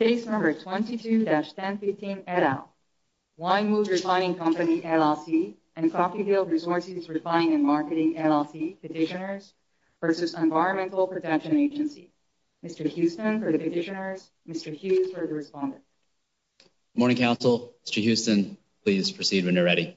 Case number 22-1015 et al. Wynnewood Refining Company, LLC and Coffeyville Resources Refining and Marketing, LLC Petitioners versus Environmental Protection Agency. Mr. Houston for the petitioners, Mr. Hughes for the responder. Morning Council, Mr. Houston, please proceed when you're ready.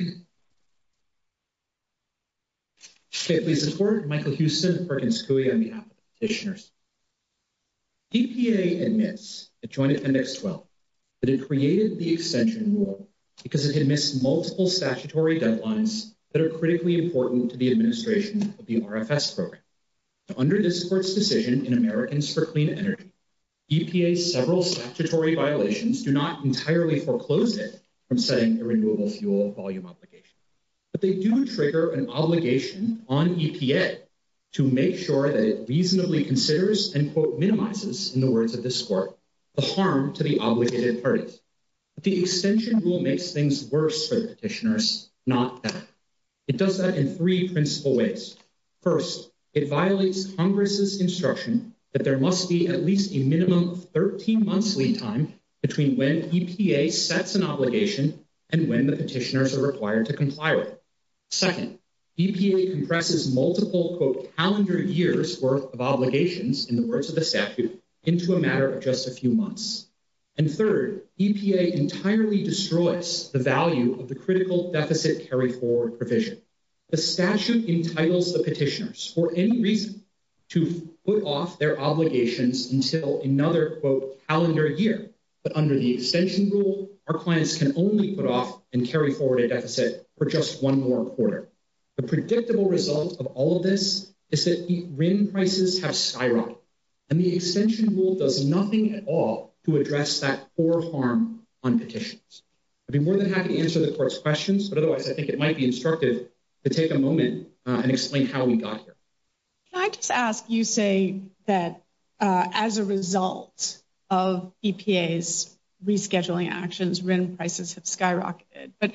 Okay, please report. Michael Houston, Perkins Coie on behalf of the petitioners. EPA admits, adjoining index 12, that it created the extension rule because it had missed multiple statutory deadlines that are critically important to the administration of the RFS program. Under this court's decision in Americans for Clean Energy, EPA's several statutory violations do not entirely foreclose it from setting a renewable fuel volume obligation. But they do trigger an obligation on EPA to make sure that it reasonably considers and quote minimizes, in the words of this court, the harm to the obligated parties. The extension rule makes things worse for the petitioners, not better. It does that in three principal ways. First, it violates Congress's instruction that there must be at least a minimum of 13 months lead time between when EPA sets an obligation and when the petitioners are required to comply with it. Second, EPA compresses multiple quote calendar years worth of obligations, in the words of the statute, into a matter of just a few months. And third, EPA entirely destroys the value of the critical deficit carry forward provision. The statute entitles the petitioners for any reason to put off their obligations until another quote calendar year. But under the extension rule, our clients can only put off and carry forward a deficit for just one more quarter. The predictable result of all of this is that RIN prices have skyrocketed and the extension rule does nothing at all to address that poor harm on petitions. I'd be more than happy to answer the court's questions, but otherwise I think it might be instructive to take a moment and explain how we got here. Can I just ask, you say that as a result of EPA's rescheduling actions, RIN prices have skyrocketed, but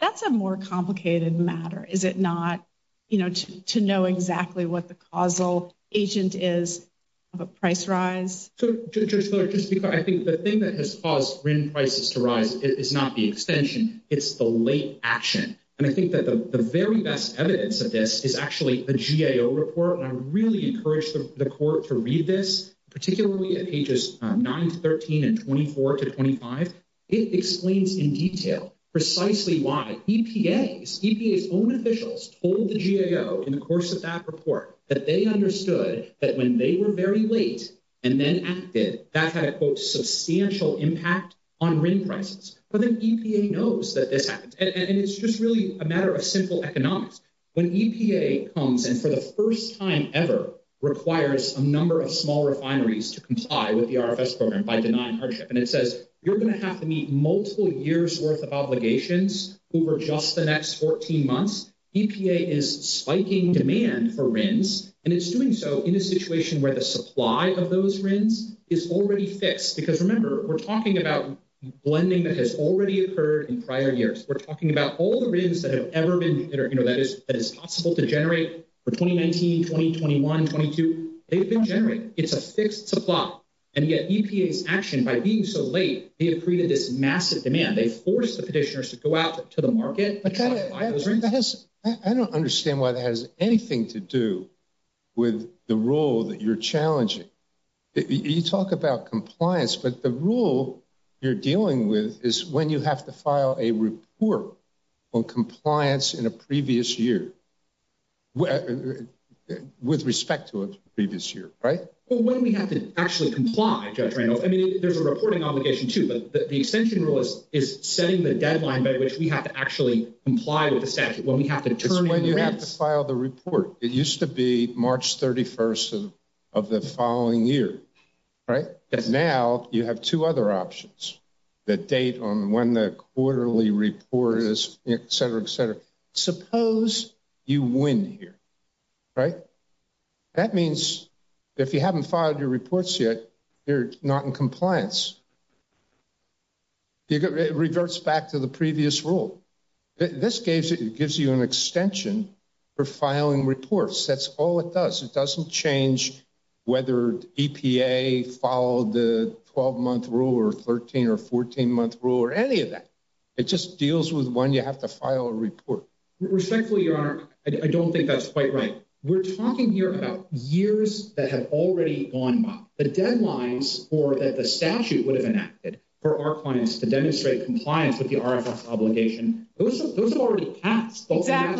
that's a more complicated matter. Is it not, you know, to know exactly what the causal agent is of a price rise? So, Judge Fuller, just because I think the thing that has caused RIN prices to rise is not the extension, it's the late action. And I think that the very best evidence of this is actually a GAO report, and I really encourage the court to read this, particularly at pages 9 to 13 and 24 to 25. It explains in detail precisely why EPA's own officials told the GAO in the course of that report that they understood that when they were very late and then acted, that had a quote substantial impact on RIN prices. But then EPA knows that this happens, and it's just really a matter of simple economics. When EPA comes and for the first time ever requires a number of small refineries to comply with the RFS program by denying hardship, and it says you're going to have to meet multiple years worth of obligations over just the next 14 months, EPA is spiking demand for RINs, and it's doing so in a situation where the supply of those RINs is already fixed. Because remember, we're talking about blending that has already occurred in prior years. We're talking about all the RINs that have ever been, you know, that is possible to generate for 2019, 2021, 2022, they've been generated. It's a fixed supply. And yet EPA's action by being so late, they have created this massive demand. They forced the petitioners to go out to the market. I don't understand why that has anything to do with the role that you're challenging. You talk about compliance, but the rule you're dealing with is when you have to file a report on compliance in a previous year. With respect to a previous year, right? Well, when we have to actually comply, Judge Randolph. I mean, there's a reporting obligation, too. But the extension rule is setting the deadline by which we have to actually comply with the statute when we have to turn in rents. It's when you have to file the report. It used to be March 31st of the following year, right? But now you have two other options that date on when the quarterly report is, et cetera, et cetera. Suppose you win here, right? That means if you haven't filed your reports yet, you're not in compliance. It reverts back to the previous rule. This gives you an extension for filing reports. That's all it does. It doesn't change whether EPA followed the 12-month rule or 13- or 14-month rule or any of that. It just deals with when you have to file a report. Respectfully, Your Honor, I don't think that's quite right. We're talking here about years that have already gone by. The deadlines for that the statute would have enacted for our clients to demonstrate compliance with the RFS obligation, those have already passed. But that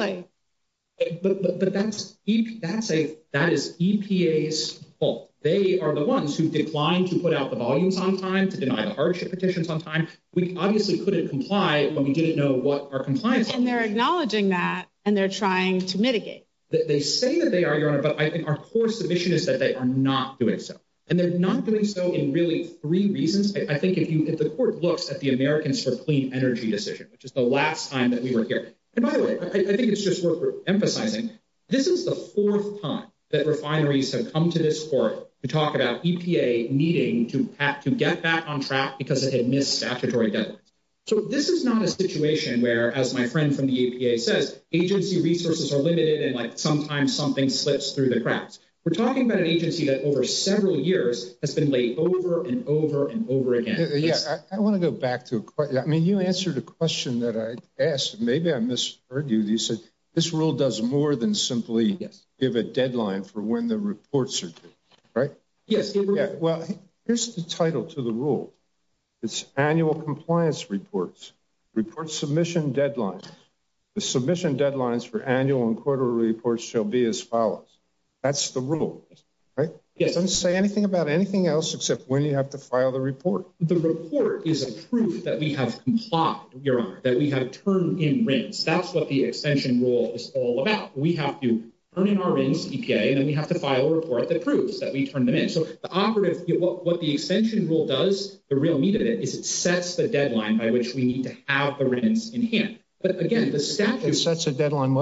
is EPA's fault. They are the ones who declined to put out the volumes on time, to deny the hardship petitions on time. We obviously couldn't comply when we didn't know what our compliance was. And they're acknowledging that, and they're trying to mitigate. They say that they are, Your Honor, but I think our core submission is that they are not doing so. And they're not doing so in really three reasons. I think if the court looks at the Americans for Clean Energy decision, which is the last time that we were here. And by the way, I think it's just worth emphasizing, this is the fourth time that refineries have come to this court to talk about EPA needing to get back on track because it had missed statutory deadlines. So this is not a situation where, as my friend from the EPA says, agency resources are limited and sometimes something slips through the cracks. We're talking about an agency that over several years has been laid over and over and over again. Yeah, I want to go back to a question. I mean, you answered a question that I asked. Maybe I misheard you. You said this rule does more than simply give a deadline for when the reports are due, right? Yes. Well, here's the title to the rule. It's annual compliance reports, report submission deadlines. The submission deadlines for annual and quarterly reports shall be as follows. That's the rule, right? Yes. Don't say anything about anything else except when you have to file the report. The report is a proof that we have complied, Your Honor, that we have turned in RINs. That's what the extension rule is all about. We have to turn in our RINs, EPA, and then we have to file a report that proves that we turned them in. So the operative, what the extension rule does, the real meat of it, is it sets the deadline by which we need to have the RINs in hand. But again, the statute- It sets a deadline.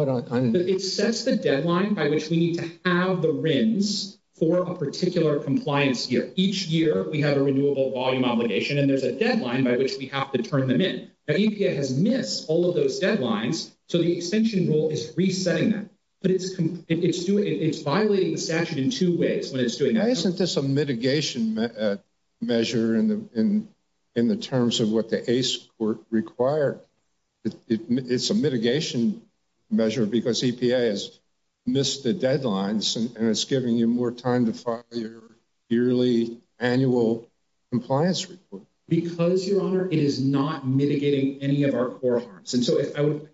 It sets the deadline by which we need to have the RINs for a particular compliance year. Each year, we have a renewable volume obligation, and there's a deadline by which we have to turn them in. Now, EPA has missed all of those deadlines, so the extension rule is resetting them. But it's violating the statute in two ways when it's doing that. Why isn't this a mitigation measure in the terms of what the ACE Court required? It's a mitigation measure because EPA has missed the deadlines, and it's giving you more time to file your yearly annual compliance report. Because, Your Honor, it is not mitigating any of our core harms. And so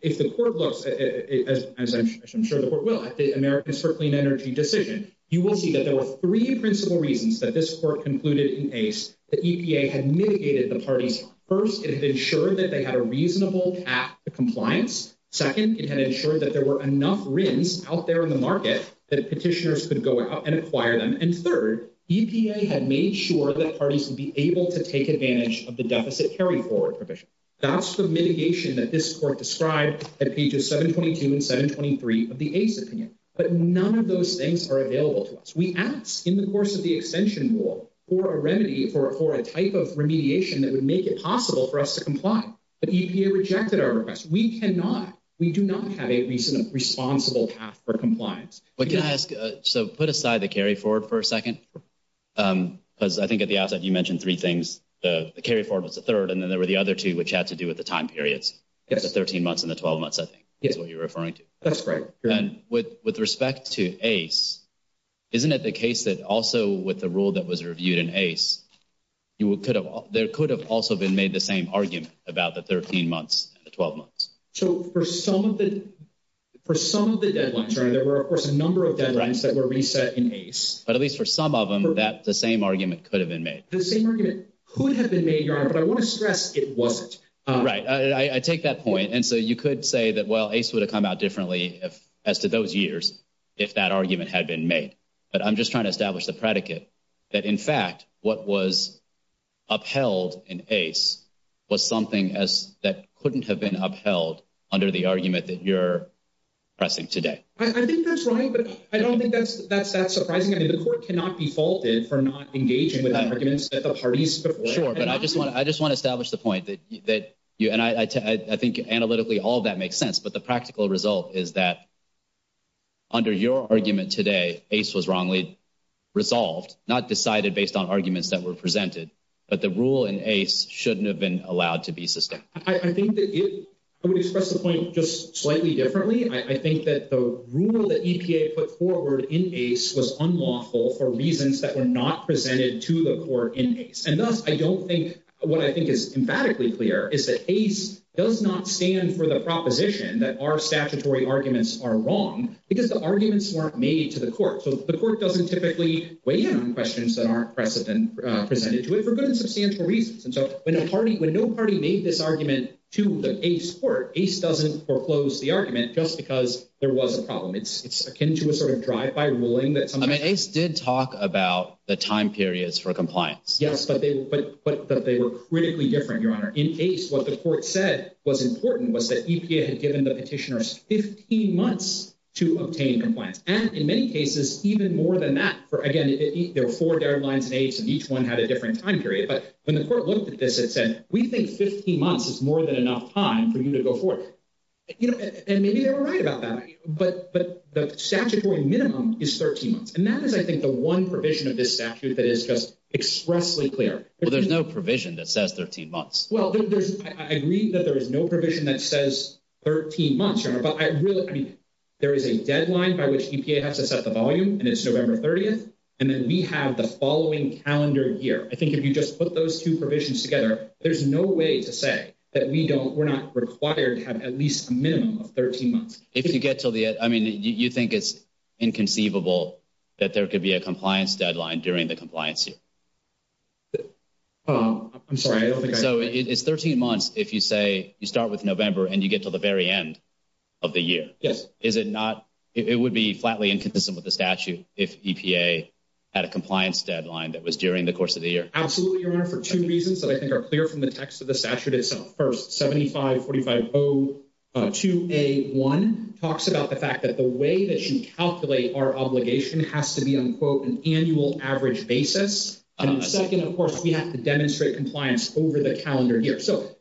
if the court looks, as I'm sure the court will, at the Americans for Clean Energy decision, you will see that there were three principal reasons that this court concluded in ACE that EPA had mitigated the parties. First, it had ensured that they had a reasonable path to compliance. Second, it had ensured that there were enough RINs out there in the market that petitioners could go out and acquire them. And third, EPA had made sure that parties would be able to take advantage of the deficit carry-forward provision. That's the mitigation that this court described at pages 722 and 723 of the ACE opinion. But none of those things are available to us. We asked, in the course of the extension rule, for a remedy, for a type of remediation that would make it possible for us to comply. But EPA rejected our request. We cannot, we do not have a reasonable, responsible path for compliance. But can I ask, so put aside the carry-forward for a second, because I think at the outset you mentioned three things. The carry-forward was the third, and then there were the other two, which had to do with the time periods. The 13 months and the 12 months, I think, is what you're referring to. That's correct. And with respect to ACE, isn't it the case that also with the rule that was reviewed in ACE, there could have also been made the same argument about the 13 months and the 12 months? So for some of the deadlines, there were of course a number of deadlines that were reset in ACE. But at least for some of them, the same argument could have been made. The same argument could have been made, Your Honor, but I want to stress it wasn't. Right, I take that point. And so you could say that, well, ACE would have come out differently as to those years if that argument had been made. But I'm just trying to establish the predicate that, in fact, what was upheld in ACE was something that couldn't have been upheld under the argument that you're pressing today. I think that's right, but I don't think that's that surprising. The court cannot be faulted for not engaging with the arguments that the parties before. Sure, but I just want to establish the point that, and I think analytically all that makes sense, but the practical result is that under your argument today, ACE was wrongly resolved, not decided based on arguments that were presented. But the rule in ACE shouldn't have been allowed to be sustained. I think that I would express the point just slightly differently. I think that the rule that EPA put forward in ACE was unlawful for reasons that were not presented to the court in ACE. And thus, I don't think what I think is emphatically clear is that ACE does not stand for the proposition that our statutory arguments are wrong because the arguments weren't made to the court. So the court doesn't typically weigh in on questions that aren't presented to it for good and substantial reasons. And so when no party made this argument to the ACE court, ACE doesn't foreclose the argument just because there was a problem. It's akin to a sort of drive-by ruling that sometimes— I mean, ACE did talk about the time periods for compliance. Yes, but they were critically different, Your Honor. In ACE, what the court said was important was that EPA had given the petitioners 15 months to obtain compliance. And in many cases, even more than that, for again, there were four guidelines in ACE and each one had a different time period. But when the court looked at this, it said, we think 15 months is more than enough time for you to go forward. And maybe they were right about that. But the statutory minimum is 13 months. And that is, I think, the one provision of this statute that is just expressly clear. Well, there's no provision that says 13 months. Well, I agree that there is no provision that says 13 months, Your Honor. But I really—I mean, there is a deadline by which EPA has to set the volume, and it's November 30th. And then we have the following calendar year. I think if you just put those two provisions together, there's no way to say that we don't—we're not required to have at least a minimum of 13 months. If you get to the—I mean, you think it's inconceivable that there could be a compliance deadline during the compliance year? I'm sorry, I don't think I— So it's 13 months if you say you start with November and you get to the very end of the year? Yes. Is it not—it would be flatly inconsistent with the statute if EPA had a compliance deadline that was during the course of the year? Absolutely, Your Honor, for two reasons that I think are clear from the text of the statute itself. First, 75-450-2A1 talks about the fact that the way that you calculate our obligation has to be, unquote, an annual average basis. And second, of course, we have to demonstrate compliance over the calendar year. So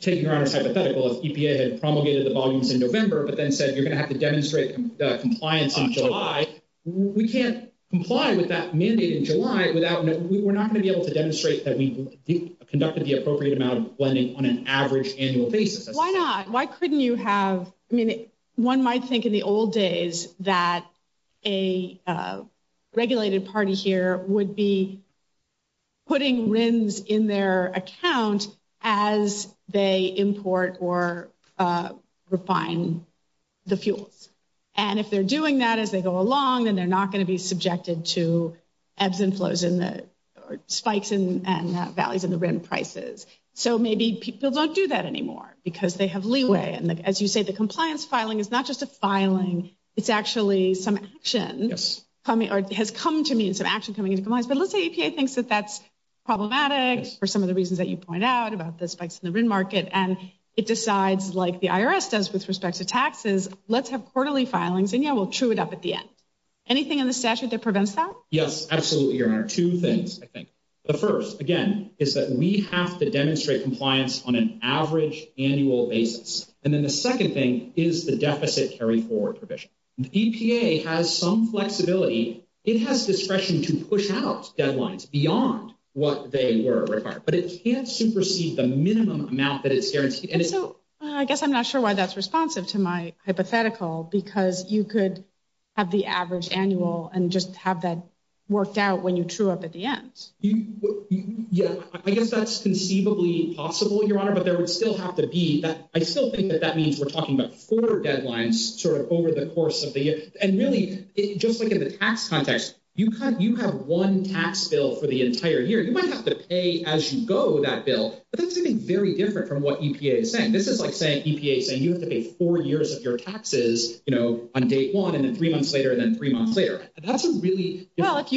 taking Your Honor's hypothetical, if EPA had promulgated the volumes in November but then said you're going to have to demonstrate compliance in July, we can't comply with that mandate in July without—we're not going to be able to demonstrate that we conducted the appropriate amount of lending on an average annual basis. Why not? I mean, one might think in the old days that a regulated party here would be putting RINs in their account as they import or refine the fuels. And if they're doing that as they go along, then they're not going to be subjected to ebbs and flows in the—or spikes and valleys in the RIN prices. So maybe people don't do that anymore because they have leeway. And as you say, the compliance filing is not just a filing. It's actually some action coming—or has come to mean some action coming into compliance. But let's say EPA thinks that that's problematic for some of the reasons that you point out about the spikes in the RIN market, and it decides, like the IRS does with respect to taxes, let's have quarterly filings, and yeah, we'll true it up at the end. Anything in the statute that prevents that? Yes, absolutely, Your Honor. Two things, I think. The first, again, is that we have to demonstrate compliance on an average annual basis. And then the second thing is the deficit carry-forward provision. The EPA has some flexibility. It has discretion to push out deadlines beyond what they were required. But it can't supersede the minimum amount that it's guaranteed. And so I guess I'm not sure why that's responsive to my hypothetical, because you could have the average annual and just have that worked out when you true up at the end. Yeah, I guess that's conceivably possible, Your Honor, but there would still have to be— I still think that that means we're talking about four deadlines sort of over the course of the year. And really, just like in the tax context, you have one tax bill for the entire year. You might have to pay as you go that bill, but that's something very different from what EPA is saying. This is like saying EPA is saying you have to pay four years of your taxes, you know, on date one, and then three months later, and then three months later. That's a really— Well, if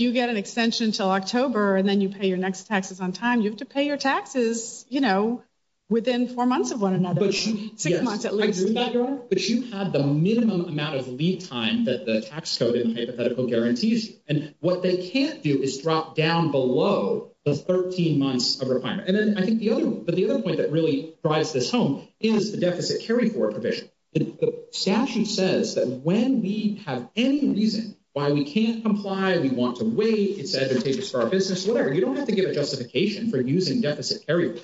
you get an extension until October and then you pay your next taxes on time, you have to pay your taxes, you know, within four months of one another, six months at least. I agree with that, Your Honor. But you have the minimum amount of leave time that the tax code in the hypothetical guarantees. And what they can't do is drop down below the 13 months of requirement. And then I think the other—but the other point that really drives this home is the deficit carry-forward provision. The statute says that when we have any reason why we can't comply, we want to wait, it's advantageous for our business, whatever. You don't have to give a justification for using deficit carry-forward.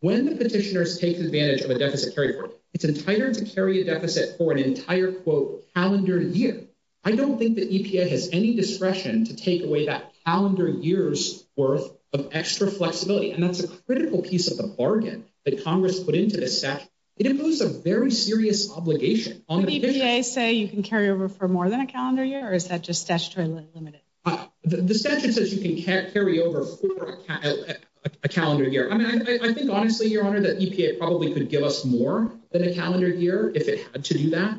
When the petitioners take advantage of a deficit carry-forward, it's entitled to carry a deficit for an entire, quote, calendar year. I don't think that EPA has any discretion to take away that calendar year's worth of extra flexibility. And that's a critical piece of the bargain that Congress put into this statute. It imposes a very serious obligation on the petitioners— Did EPA say you can carry over for more than a calendar year, or is that just statutorily limited? The statute says you can't carry over for a calendar year. I mean, I think, honestly, Your Honor, that EPA probably could give us more than a calendar year if it had to do that,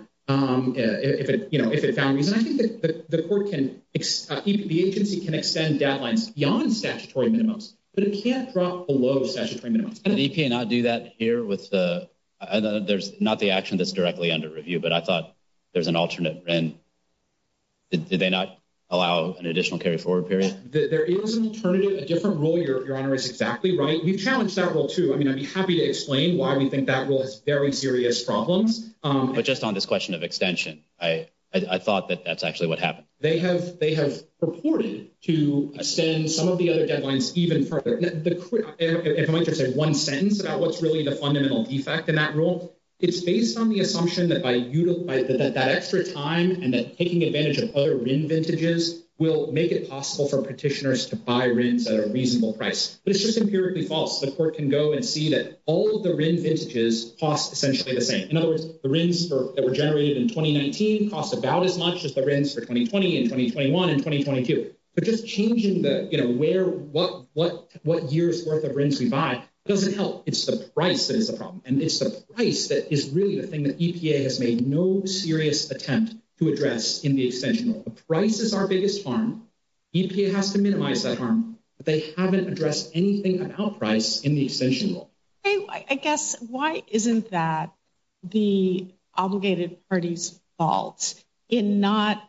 you know, if it found reason. I think that the court can—the agency can extend deadlines beyond statutory minimums, but it can't drop below statutory minimums. Did EPA not do that here with the— there's not the action that's directly under review, but I thought there's an alternate— did they not allow an additional carry-forward period? There is an alternative, a different rule, Your Honor, is exactly right. We've challenged that rule, too. I mean, I'd be happy to explain why we think that rule has very serious problems. But just on this question of extension, I thought that that's actually what happened. They have purported to extend some of the other deadlines even further. If I might just say one sentence about what's really the fundamental defect in that rule, it's based on the assumption that that extra time and that taking advantage of other RIN vintages will make it possible for petitioners to buy RINs at a reasonable price. But it's just empirically false. The court can go and see that all of the RIN vintages cost essentially the same. In other words, the RINs that were generated in 2019 cost about as much as the RINs for 2020 and 2021 and 2022. But just changing what year's worth of RINs we buy doesn't help. It's the price that is the problem. And it's the price that is really the thing that EPA has made no serious attempt to address in the extension rule. The price is our biggest harm. EPA has to minimize that harm. But they haven't addressed anything about price in the extension rule. I guess, why isn't that the obligated party's fault in not,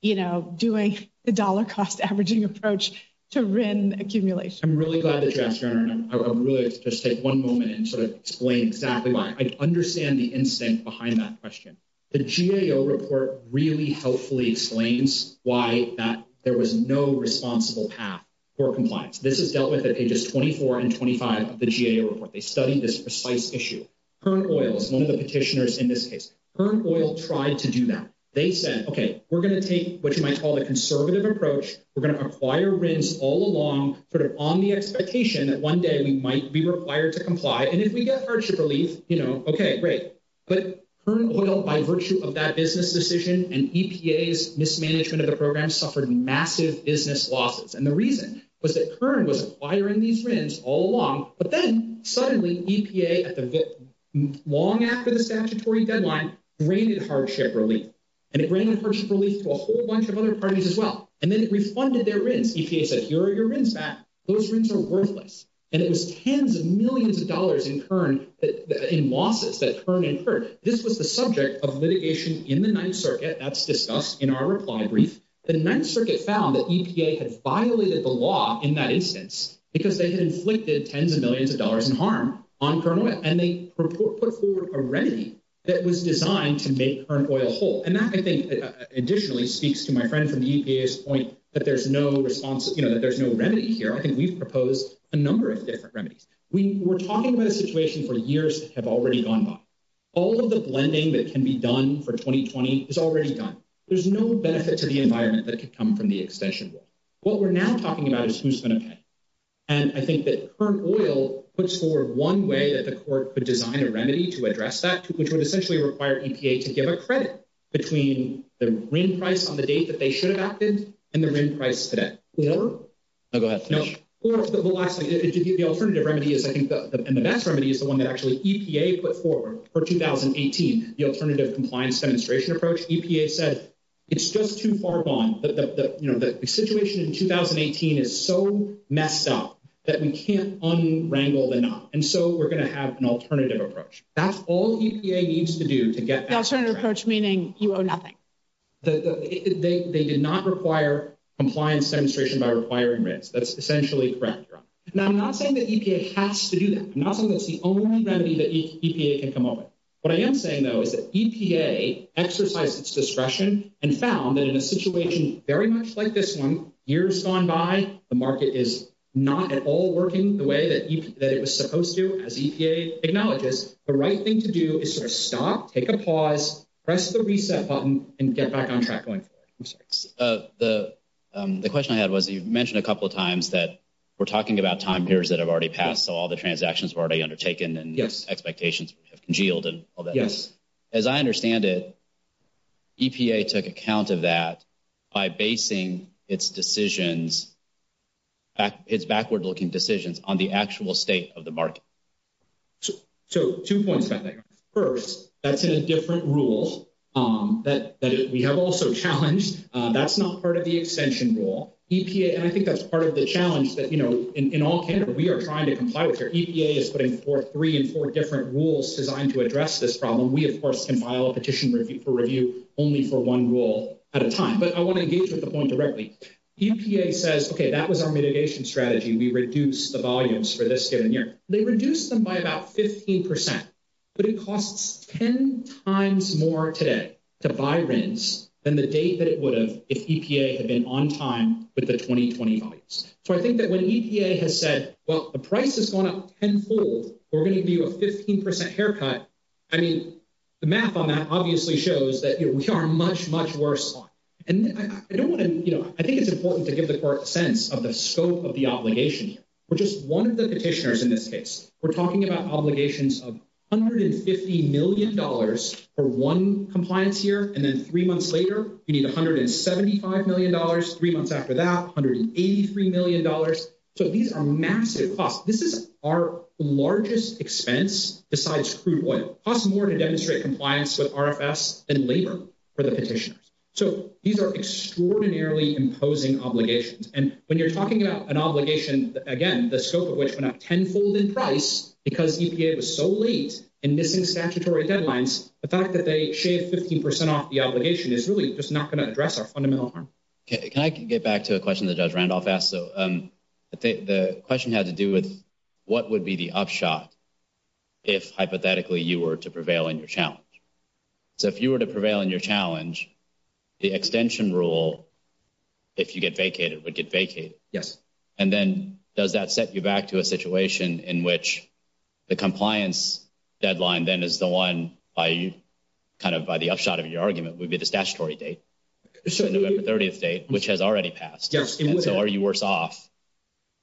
you know, doing the dollar cost averaging approach to RIN accumulation? I'm really glad that you asked, Your Honor. And I would really just take one moment and sort of explain exactly why. I understand the instinct behind that question. The GAO report really helpfully explains why that there was no responsible path for compliance. This is dealt with at pages 24 and 25 of the GAO report. They studied this precise issue. Kern Oil is one of the petitioners in this case. Kern Oil tried to do that. They said, okay, we're going to take what you might call a conservative approach. We're going to acquire RINs all along sort of on the expectation that one day we might be required to comply. And if we get hardship relief, you know, okay, great. But Kern Oil, by virtue of that business decision and EPA's mismanagement of the program, suffered massive business losses. And the reason was that Kern was acquiring these RINs all along. But then suddenly EPA, long after the statutory deadline, granted hardship relief. And it granted hardship relief to a whole bunch of other parties as well. And then it refunded their RINs. EPA said, here are your RINs back. Those RINs are worthless. And it was tens of millions of dollars in losses that Kern incurred. This was the subject of litigation in the Ninth Circuit. That's discussed in our reply brief. The Ninth Circuit found that EPA had violated the law in that instance because they had inflicted tens of millions of dollars in harm on Kern Oil. And they put forward a remedy that was designed to make Kern Oil whole. And that, I think, additionally speaks to my friend from the EPA's point that there's no response, you know, that there's no remedy here. I think we've proposed a number of different remedies. We were talking about a situation for years that have already gone by. All of the blending that can be done for 2020 is already done. There's no benefit to the environment that could come from the extension rule. What we're now talking about is who's going to pay. And I think that Kern Oil puts forward one way that the court could design a remedy to address that, which would essentially require EPA to give a credit between the RIN price on the date that they should have acted and the RIN price today. Or... Oh, go ahead. No. Or, but lastly, the alternative remedy is, I think, and the best remedy is the one that actually EPA put forward for 2018, the alternative compliance demonstration approach. EPA said, it's just too far gone. You know, the situation in 2018 is so messed up that we can't unwrangle the knot. And so we're going to have an alternative approach. That's all EPA needs to do to get... The alternative approach meaning you owe nothing. They did not require compliance demonstration by requiring RINs. That's essentially correct, Your Honor. Now, I'm not saying that EPA has to do that. I'm not saying that's the only remedy that EPA can come up with. What I am saying, though, is that EPA exercised its discretion and found that in a situation very much like this one, years gone by, the market is not at all working the way that it was supposed to, as EPA acknowledges. The right thing to do is sort of stop, take a pause, press the reset button, and get back on track going forward. I'm sorry. The question I had was, you've mentioned a couple of times that we're talking about time periods that have already passed. All the transactions were already undertaken and expectations have congealed and all that. Yes. As I understand it, EPA took account of that by basing its decisions, its backward-looking decisions, on the actual state of the market. So two points about that, Your Honor. First, that's in a different rule that we have also challenged. That's not part of the extension rule. EPA... And I think that's part of the challenge that, you know, in all candor, we are trying to comply with here. EPA is putting forth three and four different rules designed to address this problem. We, of course, can file a petition for review only for one rule at a time. But I want to engage with the point directly. EPA says, okay, that was our mitigation strategy. We reduced the volumes for this given year. They reduced them by about 15 percent, but it costs 10 times more today to buy RINs than the date that it would have if EPA had been on time with the 2020 volumes. So I think that when EPA has said, well, the price has gone up tenfold, we're going to give you a 15 percent haircut, I mean, the math on that obviously shows that we are much, much worse off. And I don't want to... You know, I think it's important to give the Court a sense of the scope of the obligation here. We're just one of the petitioners in this case. We're talking about obligations of $150 million for one compliance year, and then three months later, you need $175 million, three months after that, $183 million. So these are massive costs. This is our largest expense besides crude oil. It costs more to demonstrate compliance with RFS than labor for the petitioners. So these are extraordinarily imposing obligations. And when you're talking about an obligation, again, the scope of which went up tenfold in price because EPA was so late in missing statutory deadlines, the fact that they shaved 15 percent off the obligation is really just not going to address our fundamental harm. Can I get back to a question that Judge Randolph asked? So the question had to do with what would be the upshot if, hypothetically, you were to prevail in your challenge? So if you were to prevail in your challenge, the extension rule, if you get vacated, would get vacated. Yes. And then does that set you back to a situation in which the compliance deadline then is the upshot of your argument would be the statutory date, the November 30th date, which has already passed? Yes. So are you worse off?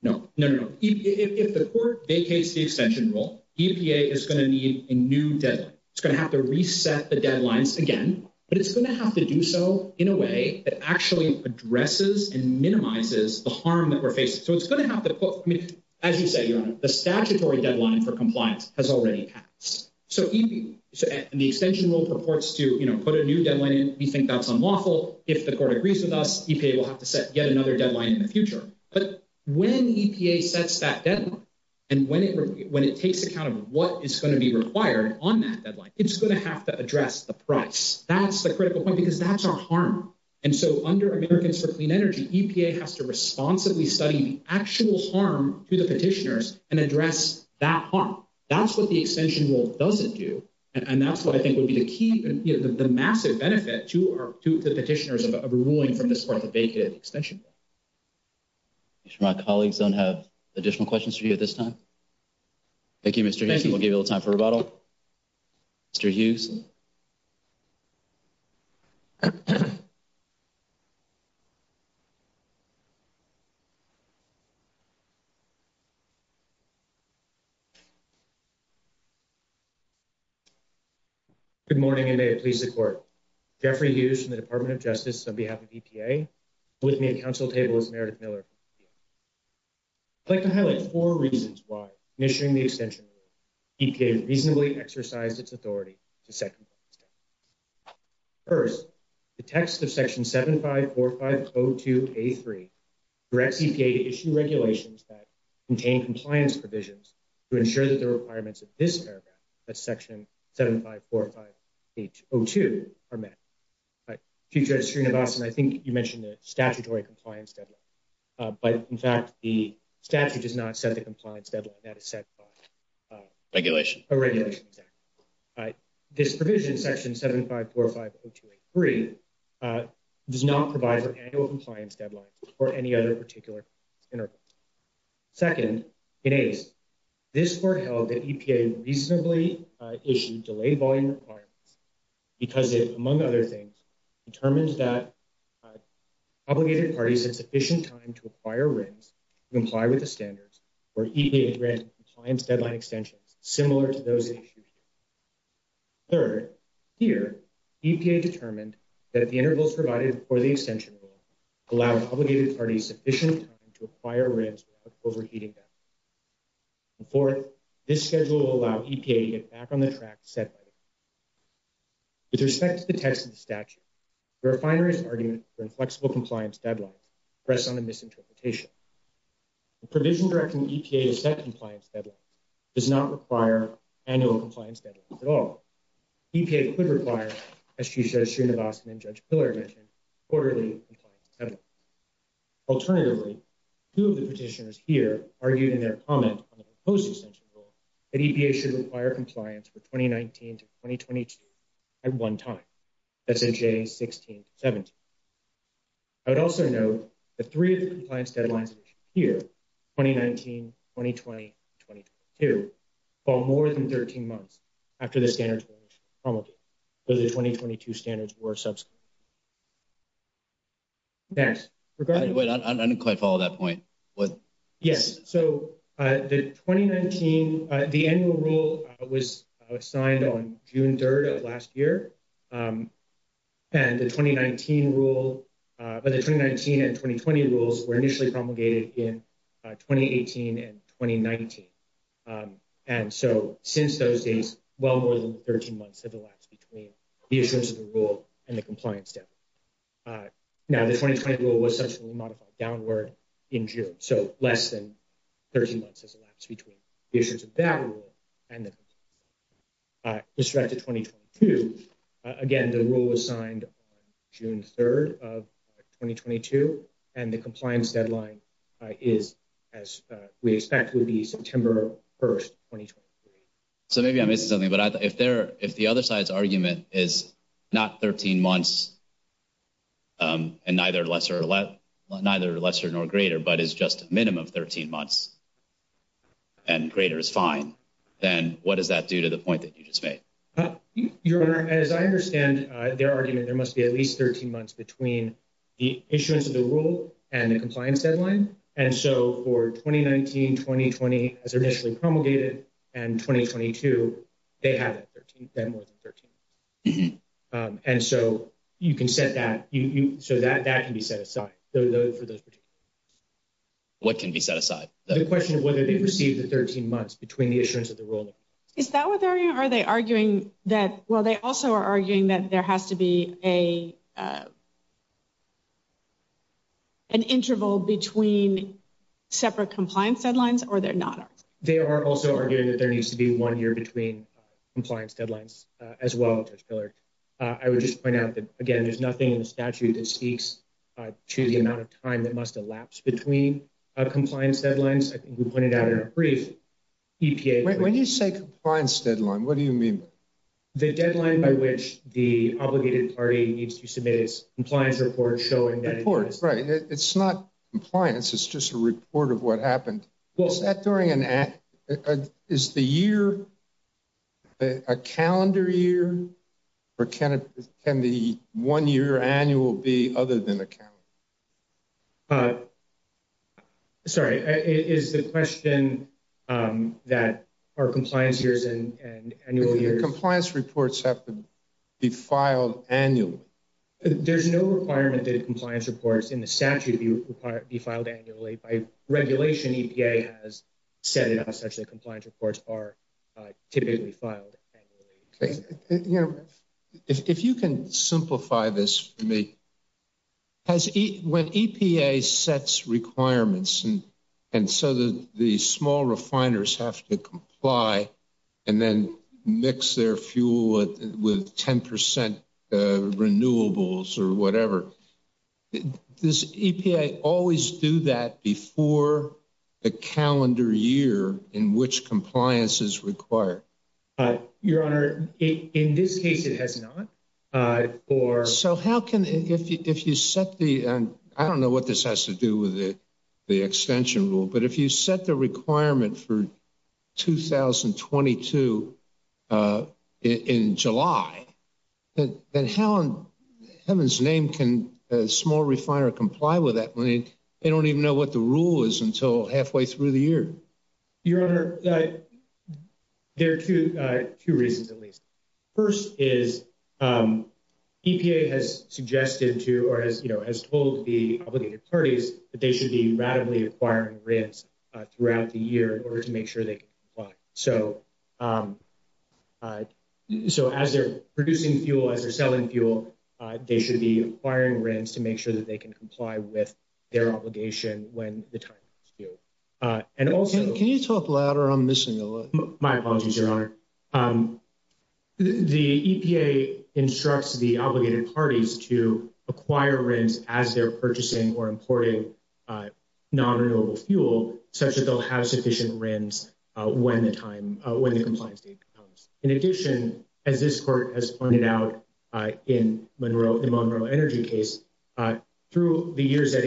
No, no, no, no. If the court vacates the extension rule, EPA is going to need a new deadline. It's going to have to reset the deadlines again, but it's going to have to do so in a way that actually addresses and minimizes the harm that we're facing. So it's going to have to put, I mean, as you said, Your Honor, the statutory deadline for compliance has already passed. So the extension rule purports to put a new deadline in. We think that's unlawful. If the court agrees with us, EPA will have to set yet another deadline in the future. But when EPA sets that deadline and when it takes account of what is going to be required on that deadline, it's going to have to address the price. That's the critical point because that's our harm. And so under Americans for Clean Energy, EPA has to responsibly study the actual harm to the petitioners and address that harm. That's what the extension rule doesn't do. And that's what I think would be the key, the massive benefit to the petitioners of ruling from this court to vacate the extension rule. I'm sure my colleagues don't have additional questions for you at this time. Thank you, Mr. Hughes. We'll give you a little time for rebuttal. Mr. Hughes. Good morning, and may it please the court. Jeffrey Hughes from the Department of Justice on behalf of EPA, with me at council table is Meredith Miller. I'd like to highlight four reasons why, in issuing the extension rule, EPA reasonably exercised its authority to second the extension rule. First, the text of section 754502A3 directs EPA to issue regulations that contain compliance provisions to ensure that the requirements of this paragraph, that's section 754502, are met. Chief Justice Srinivasan, I think you mentioned the statutory compliance deadline. But in fact, the statute does not set the compliance deadline. That is set by a regulation. This provision, section 754502A3, does not provide for annual compliance deadlines or any other particular intervention. Second, in ACE, this court held that EPA reasonably issued delayed volume requirements because it, among other things, determined that obligated parties had sufficient time to acquire rings to comply with the standards for EPA-granted compliance deadline extensions, similar to those issued here. Third, here, EPA determined that the intervals provided for the extension rule allowed obligated parties sufficient time to acquire rings without overheating them. And fourth, this schedule will allow EPA to get back on the track set by the statute. With respect to the text of the statute, the refinery's argument for inflexible compliance deadlines rests on a misinterpretation. The provision directing EPA to set compliance deadlines does not require annual compliance deadlines at all. EPA could require, as Chief Justice Srinivasan and Judge Pillar mentioned, quarterly compliance deadlines. Alternatively, two of the petitioners here argued in their comment on the proposed extension rule that EPA should require compliance for 2019-2022 at one time, that's in J16-17. I would also note the three compliance deadlines issued here, 2019, 2020, and 2022, fall more than 13 months after the standards were initially promulgated, though the 2022 standards were subsequent. Next, regarding- I didn't quite follow that point. Yes, so the 2019, the annual rule was signed on June 3rd of last year, and the 2019 rule, but the 2019 and 2020 rules were initially promulgated in 2018 and 2019. And so since those days, well more than 13 months have elapsed between the issuance of the compliance deadline. Now, the 2020 rule was subsequently modified downward in June, so less than 13 months has elapsed between the issuance of that rule and the compliance deadline. With respect to 2022, again, the rule was signed on June 3rd of 2022, and the compliance deadline is, as we expect, would be September 1st, 2023. So maybe I'm missing something, but if the other side's argument is not 13 months and neither lesser nor greater, but is just a minimum of 13 months and greater is fine, then what does that do to the point that you just made? Your Honor, as I understand their argument, there must be at least 13 months between the issuance of the rule and the compliance deadline. And so for 2019, 2020, as initially promulgated, and 2022, they have 13, they have more than 13. And so you can set that, so that can be set aside for those. What can be set aside? The question of whether they've received the 13 months between the issuance of the rule. Is that what they're arguing? Are they arguing that, well, they also are arguing that there has to be a, an interval between separate compliance deadlines or they're not? They are also arguing that there needs to be one year between compliance deadlines as well. I would just point out that, again, there's nothing in the statute that speaks to the amount of time that must elapse between compliance deadlines. I think we pointed out in a brief EPA. When you say compliance deadline, what do you mean? The deadline by which the obligated party needs to submit its compliance report showing that. Report, right. It's not compliance. It's just a report of what happened. Was that during an act? Is the year a calendar year or can it, can the one year annual be other than a calendar? Sorry, is the question that our compliance years and annual year compliance reports have to be filed annually? There's no requirement that compliance reports in the statute be filed annually by regulation. EPA has said it has such a compliance reports are typically filed. If you can simplify this for me. When EPA sets requirements and so the small refiners have to comply and then mix their fuel with 10% renewables or whatever, does EPA always do that before a calendar year in which compliance is required? Your Honor, in this case, it has not. Or so how can, if you set the, I don't know what this has to do with the extension rule, but if you set the requirement for 2022 in July, then how in heaven's name can a small refiner comply with that? They don't even know what the rule is until halfway through the year. First is EPA has suggested to, or has, you know, has told the obligated parties that they should be radically acquiring RINs throughout the year in order to make sure they comply. So as they're producing fuel, as they're selling fuel, they should be acquiring RINs to make sure that they can comply with their obligation when the time is due. Can you talk louder? My apologies, Your Honor. The EPA instructs the obligated parties to acquire RINs as they're purchasing or importing non-renewable fuel such that they'll have sufficient RINs when the time, when the compliance date comes. In addition, as this Court has pointed out in Monroe Energy case, through the years at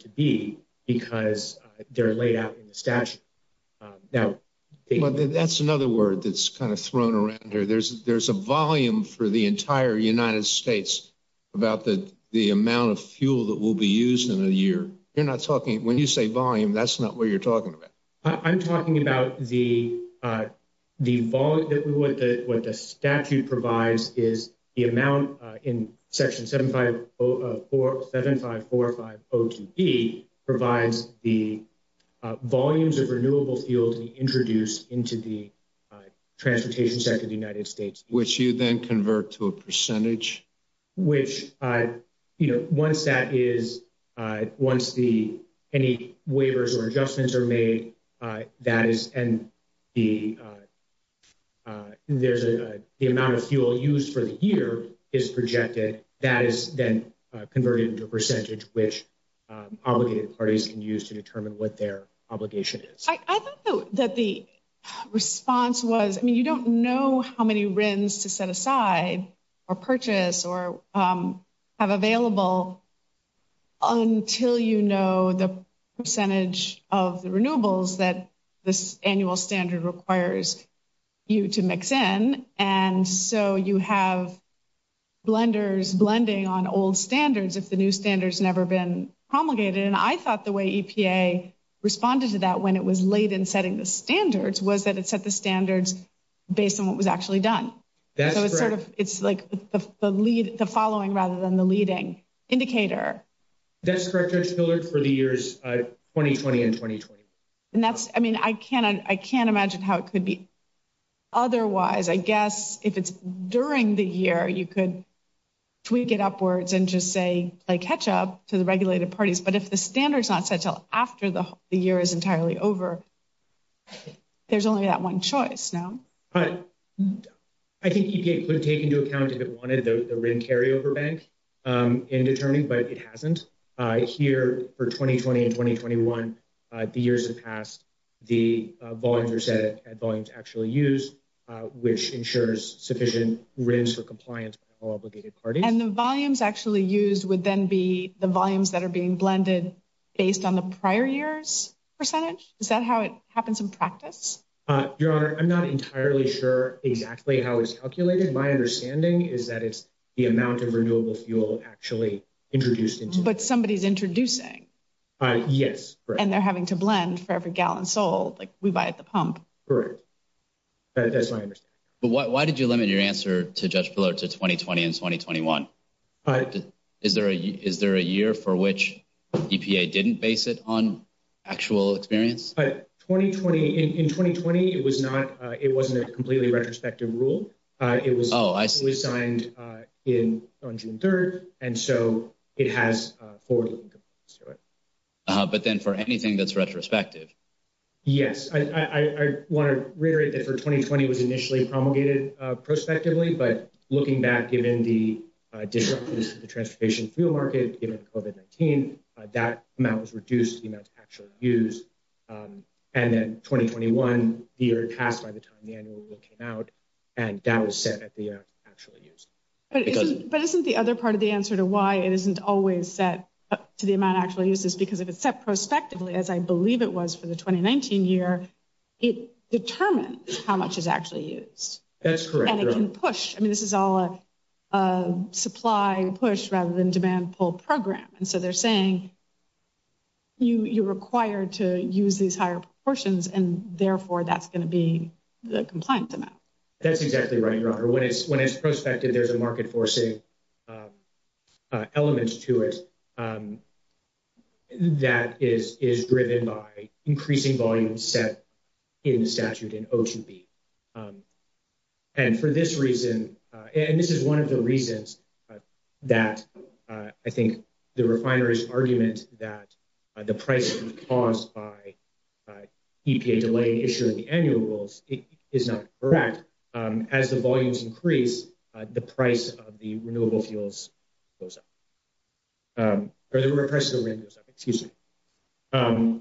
to be because they're laid out in the statute. Now, that's another word that's kind of thrown around here. There's a volume for the entire United States about the amount of fuel that will be used in a year. You're not talking, when you say volume, that's not what you're talking about. I'm talking about the volume that what the statute provides is the amount in section 7545 O2B provides the volumes of renewable fuel to be introduced into the transportation sector of the United States. Which, you know, once that is, once the, any waivers or adjustments are made, that is, and the, there's a, the amount of fuel used for the year is projected. That is then converted into a percentage, which obligated parties can use to determine what their obligation is. I thought that the response was, I mean, you don't know how many RINs to set aside or purchase or have available until, you know, the percentage of the renewables that this annual standard requires you to mix in. And so you have blenders blending on old standards. If the new standards never been promulgated, and I thought the way EPA responded to that when it was late in setting the standards was that it set the standards based on what was actually done. So it's sort of, it's like the lead, the following rather than the leading indicator. That's correct Judge Hillard for the years 2020 and 2021. And that's, I mean, I can't, I can't imagine how it could be otherwise. I guess if it's during the year, you could tweak it upwards and just say like catch up to the regulated parties. But if the standard is not set until after the year is entirely over, there's only that one choice now. But I think EPA could take into account if it wanted the RIN carryover bank in determining, but it hasn't. Here for 2020 and 2021, the years have passed, the volumes are set at volumes actually used, which ensures sufficient RINs for compliance by all obligated parties. And the volumes actually used would then be the volumes that are being blended based on the prior year's percentage? Is that how it happens in practice? Your Honor, I'm not entirely sure exactly how it's calculated. My understanding is that it's the amount of renewable fuel actually introduced. But somebody's introducing. Yes. And they're having to blend for every gallon sold. Like we buy at the pump. Correct. That's my understanding. But why did you limit your answer to Judge Pillow to 2020 and 2021? Is there a year for which EPA didn't base it on actual experience? 2020, in 2020, it wasn't a completely retrospective rule. It was signed on June 3rd. And so it has forward-looking compliance to it. But then for anything that's retrospective? Yes. I want to reiterate that for 2020, it was initially promulgated prospectively. But looking back, given the disruptions to the transportation fuel market, given COVID-19, that amount was reduced to the amount actually used. And then 2021, the year it passed by the time the annual rule came out, and that was set at the amount actually used. But isn't the other part of the answer to why it isn't always set to the amount actually used is because if it's set prospectively, as I believe it was for the 2019 year, it determines how much is actually used. That's correct. And it can push. I mean, this is all a supply-push rather than demand-pull program. And so they're saying you're required to use these higher proportions, and therefore that's going to be the compliant amount. That's exactly right, Your Honor. When it's prospective, there's a market-forcing element to it that is driven by increasing volume set in the statute in O2B. And for this reason, and this is one of the reasons that I think the refineries' argument that the price caused by EPA delay in issuing the annual rules is not correct, as the volumes increase, the price of the renewable fuels goes up, or the price of the wind goes up. Excuse me.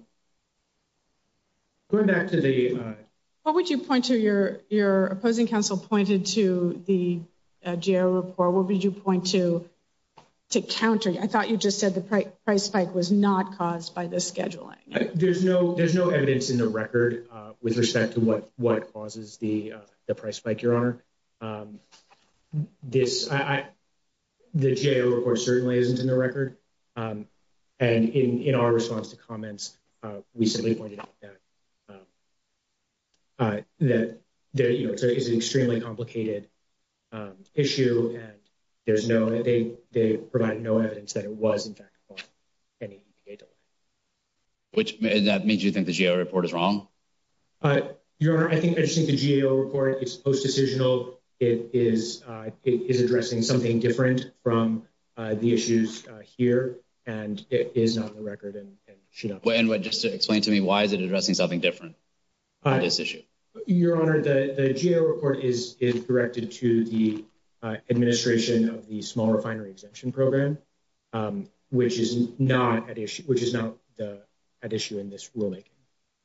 What would you point to? Your opposing counsel pointed to the GAO report. What would you point to to counter? I thought you just said the price spike was not caused by the scheduling. There's no evidence in the record with respect to what causes the price spike, Your Honor. The GAO report certainly isn't in the record. And in our response to comments, we simply pointed out that there is an extremely complicated issue, and they provide no evidence that it was, in fact, caused by any EPA delay. That means you think the GAO report is wrong? Your Honor, I just think the GAO report is post-decisional. It is addressing something different from the issues here, and it is not in the record. Just explain to me, why is it addressing something different on this issue? Your Honor, the GAO report is directed to the administration of the small refinery exemption program, which is not at issue in this rulemaking.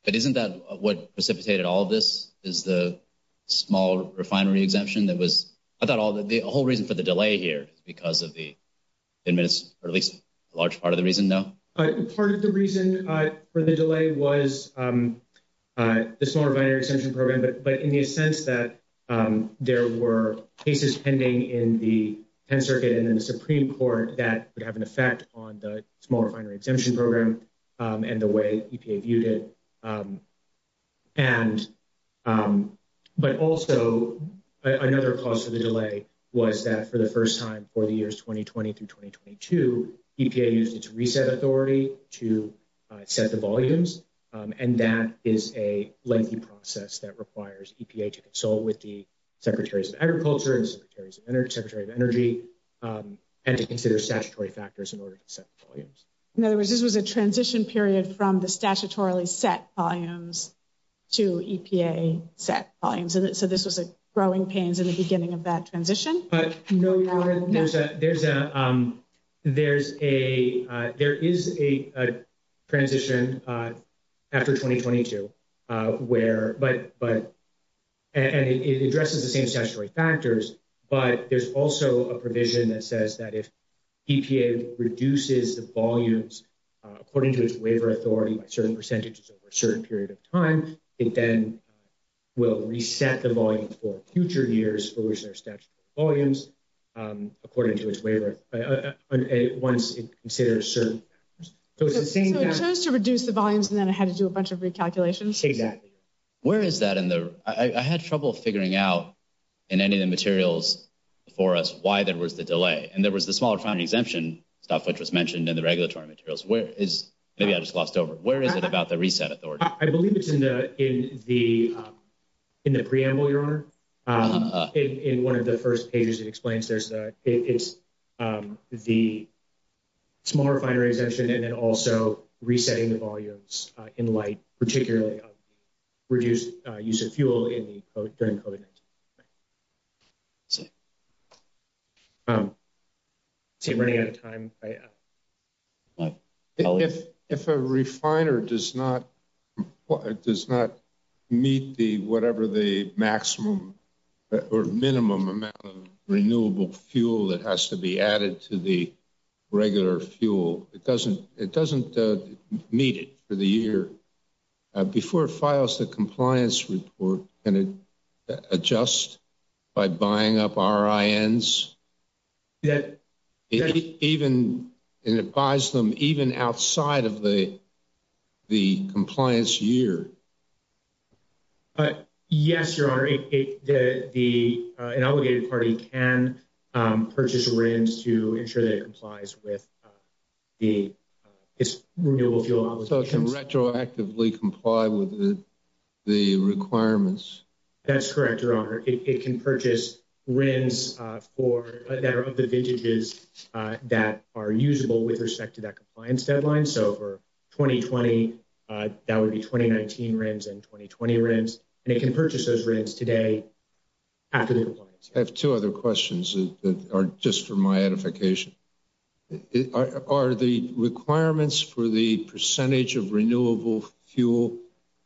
But isn't that what precipitated all of this, is the small refinery exemption? I thought the whole reason for the delay here is because of the administration, or at least a large part of the reason, no? Part of the reason for the delay was the small refinery exemption program, but in the sense that there were cases pending in the Penn Circuit and in the Supreme Court that would have an effect on the small refinery exemption program and the way EPA viewed it. But also, another cause for the delay was that for the first time for the years 2020 through 2022, EPA used its reset authority to set the volumes, and that is a lengthy process that requires EPA to consult with the Secretaries of Agriculture, the Secretaries of Energy, and to consider statutory factors in order to set volumes. In other words, this was a transition period from the statutorily set volumes to EPA set volumes, so this was a growing pains in the head. There is a transition after 2022, and it addresses the same statutory factors, but there's also a provision that says that if EPA reduces the volumes according to its waiver authority by certain percentages over a certain period of time, it then will reset the volumes for future years for which there are statutory volumes according to its waiver once it considers certain percentages. So it's the same thing. So it chose to reduce the volumes and then it had to do a bunch of recalculations? Exactly. I had trouble figuring out in any of the materials before us why there was the delay, and there was the small refinery exemption stuff which was mentioned in the regulatory materials. Maybe I just lost over. Where is it about the reset I believe it's in the in the in the preamble, Your Honor. In one of the first pages it explains there's the it's the small refinery exemption and then also resetting the volumes in light, particularly of reduced use of fuel in the during COVID-19. Sorry. See, we're running out of time. If a refiner does not meet the whatever the maximum or minimum amount of renewable fuel that has to be added to the regular fuel, it doesn't meet it for the year. Before it files the compliance report, can it adjust by buying up RINs? And it buys them even outside of the compliance year? Yes, Your Honor. An obligated party can purchase RINs to ensure that it complies with its renewable fuel obligations. So it can retroactively comply with the requirements? That's correct, Your Honor. It can purchase RINs that are of the vintages that are usable with respect to that compliance deadline. So for 2020, that would be 2019 RINs and 2020 RINs, and it can purchase those RINs today after the compliance. I have two other questions that are just for my edification. Are the requirements for the percentage of renewable fuel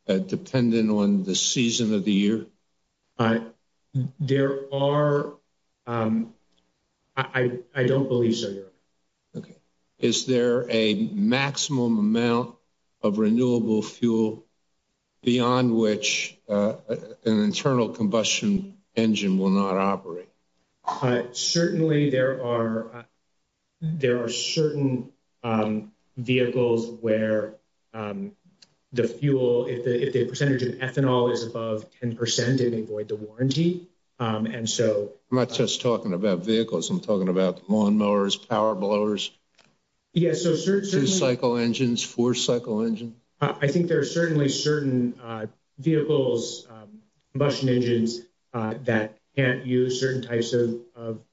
dependent on the season of the year? There are. I don't believe so, Your Honor. Okay. Is there a maximum amount of renewable fuel beyond which an internal combustion engine will not operate? Certainly, there are certain vehicles where the fuel, if the percentage of ethanol is above 10 percent, it may void the warranty. I'm not just talking about vehicles. I'm talking about lawnmowers, power blowers, two-cycle engines, four-cycle engines? I think there are certainly certain vehicles, combustion engines, that can't use certain types of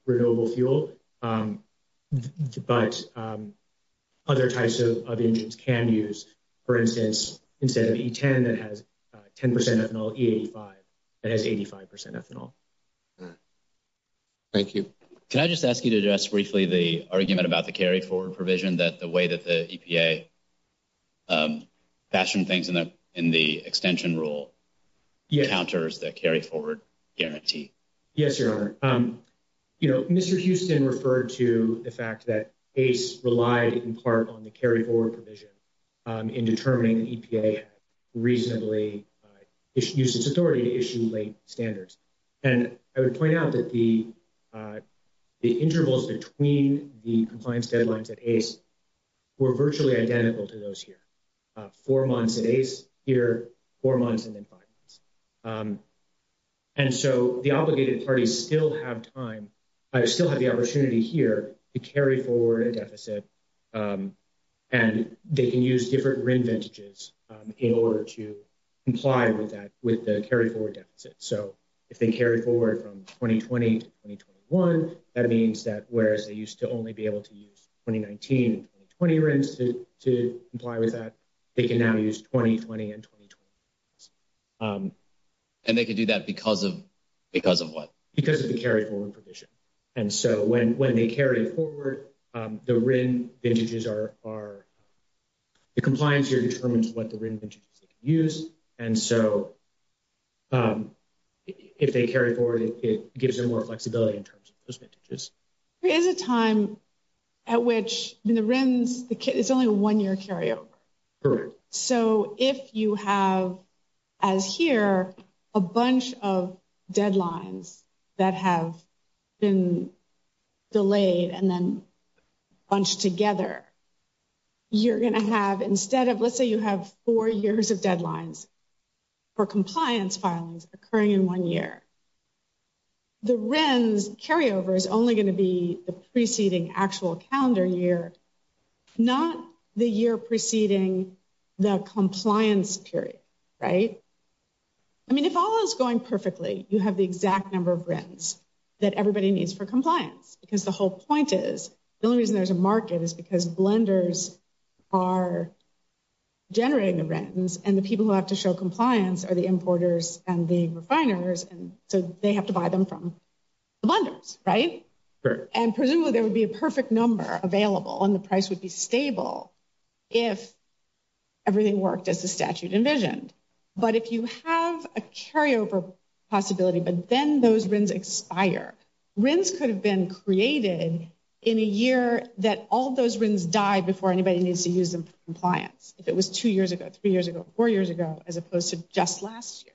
renewable fuel, but other types of engines can use, for instance, instead of E10 that has 10 percent ethanol, E85 that has 85 percent ethanol. Thank you. Can I just ask you to address briefly the argument about the carry-forward provision that the way that the EPA fashioned things in the extension rule counters the carry-forward guarantee? Yes, Your Honor. Mr. Houston referred to the fact that ACE relied in part on the carry-forward provision in determining the EPA reasonably used its authority to issue late standards, and I would point out that the intervals between the compliance deadlines at ACE were virtually identical to those here. Four months at ACE here, four months, and then five months. And so the obligated parties still have time, still have the opportunity here to carry forward a deficit, and they can use different RIN vintages in order to comply with that, with the carry-forward deficit. So if they carry forward from 2020 to 2021, that means that whereas they used to only be able to use 2019 and 2020 RINs to comply with that, they can now use 2020 and 2020 RINs. And they can do that because of what? Because of the carry-forward provision. And so when they carry forward, the RIN vintages are, the compliance here determines what the RIN vintages they can use, and so if they carry forward, it gives them more flexibility in terms of those vintages. There is a time at which, in the RINs, it's only a one-year carryover. Correct. So if you have, as here, a bunch of deadlines that have been delayed and then bunched together, you're going to have, instead of, let's say you have four years of deadlines for compliance filings occurring in one year, the RINs carryover is only going to be the preceding actual calendar year, not the year preceding the compliance period, right? I mean, if all is going perfectly, you have the exact number of RINs that everybody needs for compliance, because the whole point is, the only reason there's a market is because blenders are generating the RINs, and the people who have to show compliance are the importers and the refiners, and so they have to buy them from the blenders, right? And presumably there would be a perfect number available, and the price would be stable if everything worked as the statute envisioned. But if you have a carryover possibility, but then those RINs expire, RINs could have been created in a year that all those RINs die before anybody needs to use them for compliance, if it was two years ago, three years ago, four years ago, as opposed to just last year.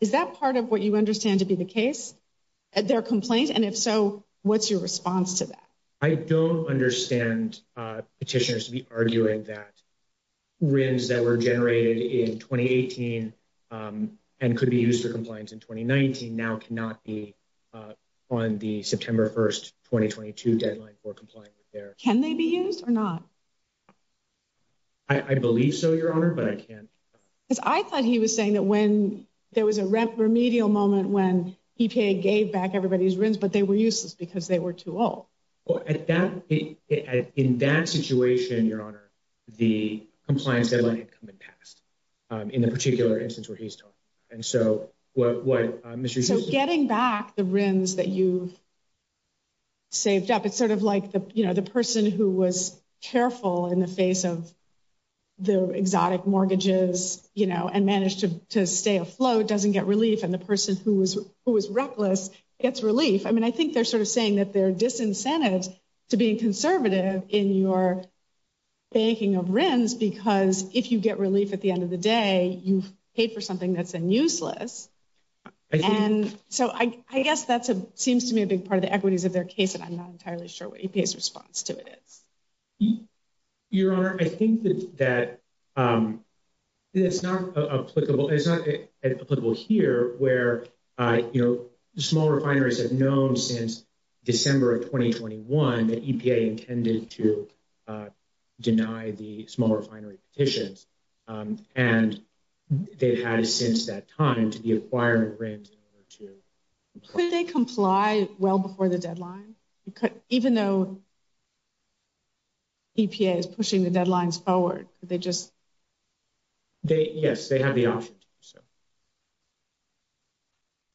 Is that part of what you understand to be the case, their complaint? And if so, what's your response to that? I don't understand petitioners to be now cannot be on the September 1st, 2022 deadline for compliance. Can they be used or not? I believe so, Your Honor, but I can't. I thought he was saying that when there was a remedial moment when EPA gave back everybody's RINs, but they were useless because they were too old. Well, in that situation, Your Honor, the compliance deadline had come and passed, in the particular instance where he's talking. So getting back the RINs that you saved up, it's sort of like the person who was careful in the face of the exotic mortgages and managed to stay afloat doesn't get relief, and the person who was reckless gets relief. I mean, I think they're sort of saying that they're disincentive to being conservative in your banking of RINs, because if you get relief at the end of the day, you've paid for something that's useless. And so I guess that seems to me a big part of the equities of their case, and I'm not entirely sure what EPA's response to it is. Your Honor, I think that it's not applicable here, where small refineries have known since December of 2021 that EPA intended to deny the small refinery petitions, and they've had since that time to be acquiring RINs in order to... Could they comply well before the deadline? Even though EPA is pushing the deadlines forward, could they just... Yes, they have the option to do so.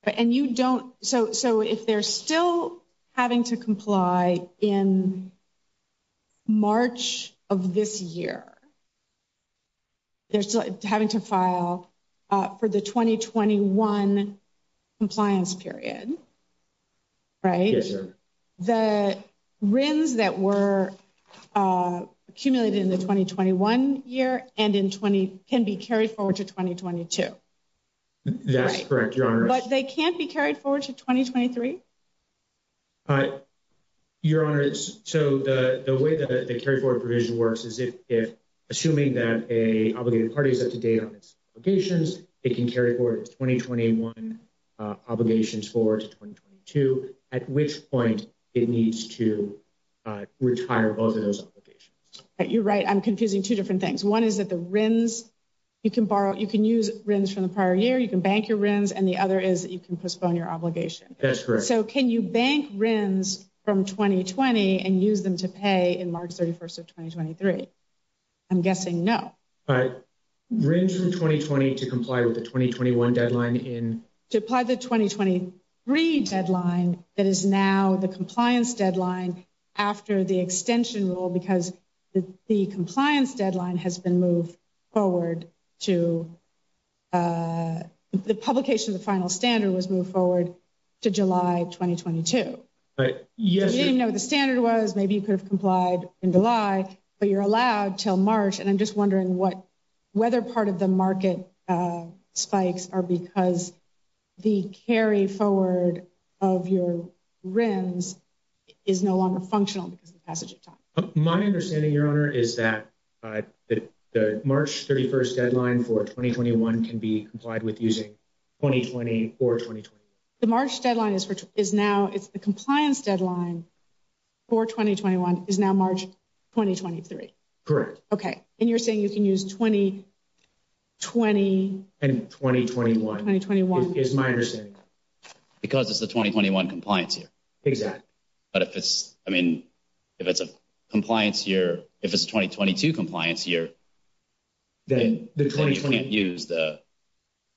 Okay. And you don't... So if they're still having to comply in March of this year, they're still having to file for the 2021 compliance period, right? Yes, Your Honor. The RINs that were accumulated in the 2021 year and can be carried forward to 2022. That's correct, Your Honor. But they can't be carried forward to 2023? Your Honor, so the way that the carry forward provision works is if, assuming that a obligated party is up to date on its obligations, it can carry forward its 2021 obligations forward to 2022, at which point it needs to retire both of those obligations. You're right. I'm confusing two different things. One is that the RINs, you can borrow, you can use RINs from the prior year, you can bank your RINs, and the other is that you can postpone your obligation. That's correct. So can you bank RINs from 2020 and use them to pay in March 31st of 2023? I'm guessing no. But RINs from 2020 to comply with the 2021 deadline in... To apply the 2023 deadline that is now the compliance deadline after the extension rule because the compliance deadline has been moved forward to... The publication of the final standard was moved forward to July 2022. I didn't know what the standard was. Maybe you could have complied in July, but you're allowed till March. And I'm just wondering whether part of the market spikes are because the carry forward of your RINs is no longer functional because of the passage of time. My understanding, Your Honor, is that the March 31st deadline for 2021 can be complied with using 2020 or 2023. The March deadline is now, it's the compliance deadline for 2021 is now March 2023. Correct. Okay. And you're saying you can use 2020... And 2021. 2021. Is my understanding. Because it's the 2021 compliance year. Exactly. But if it's, I mean, if it's a compliance year, if it's a 2022 compliance year, then you can't use the...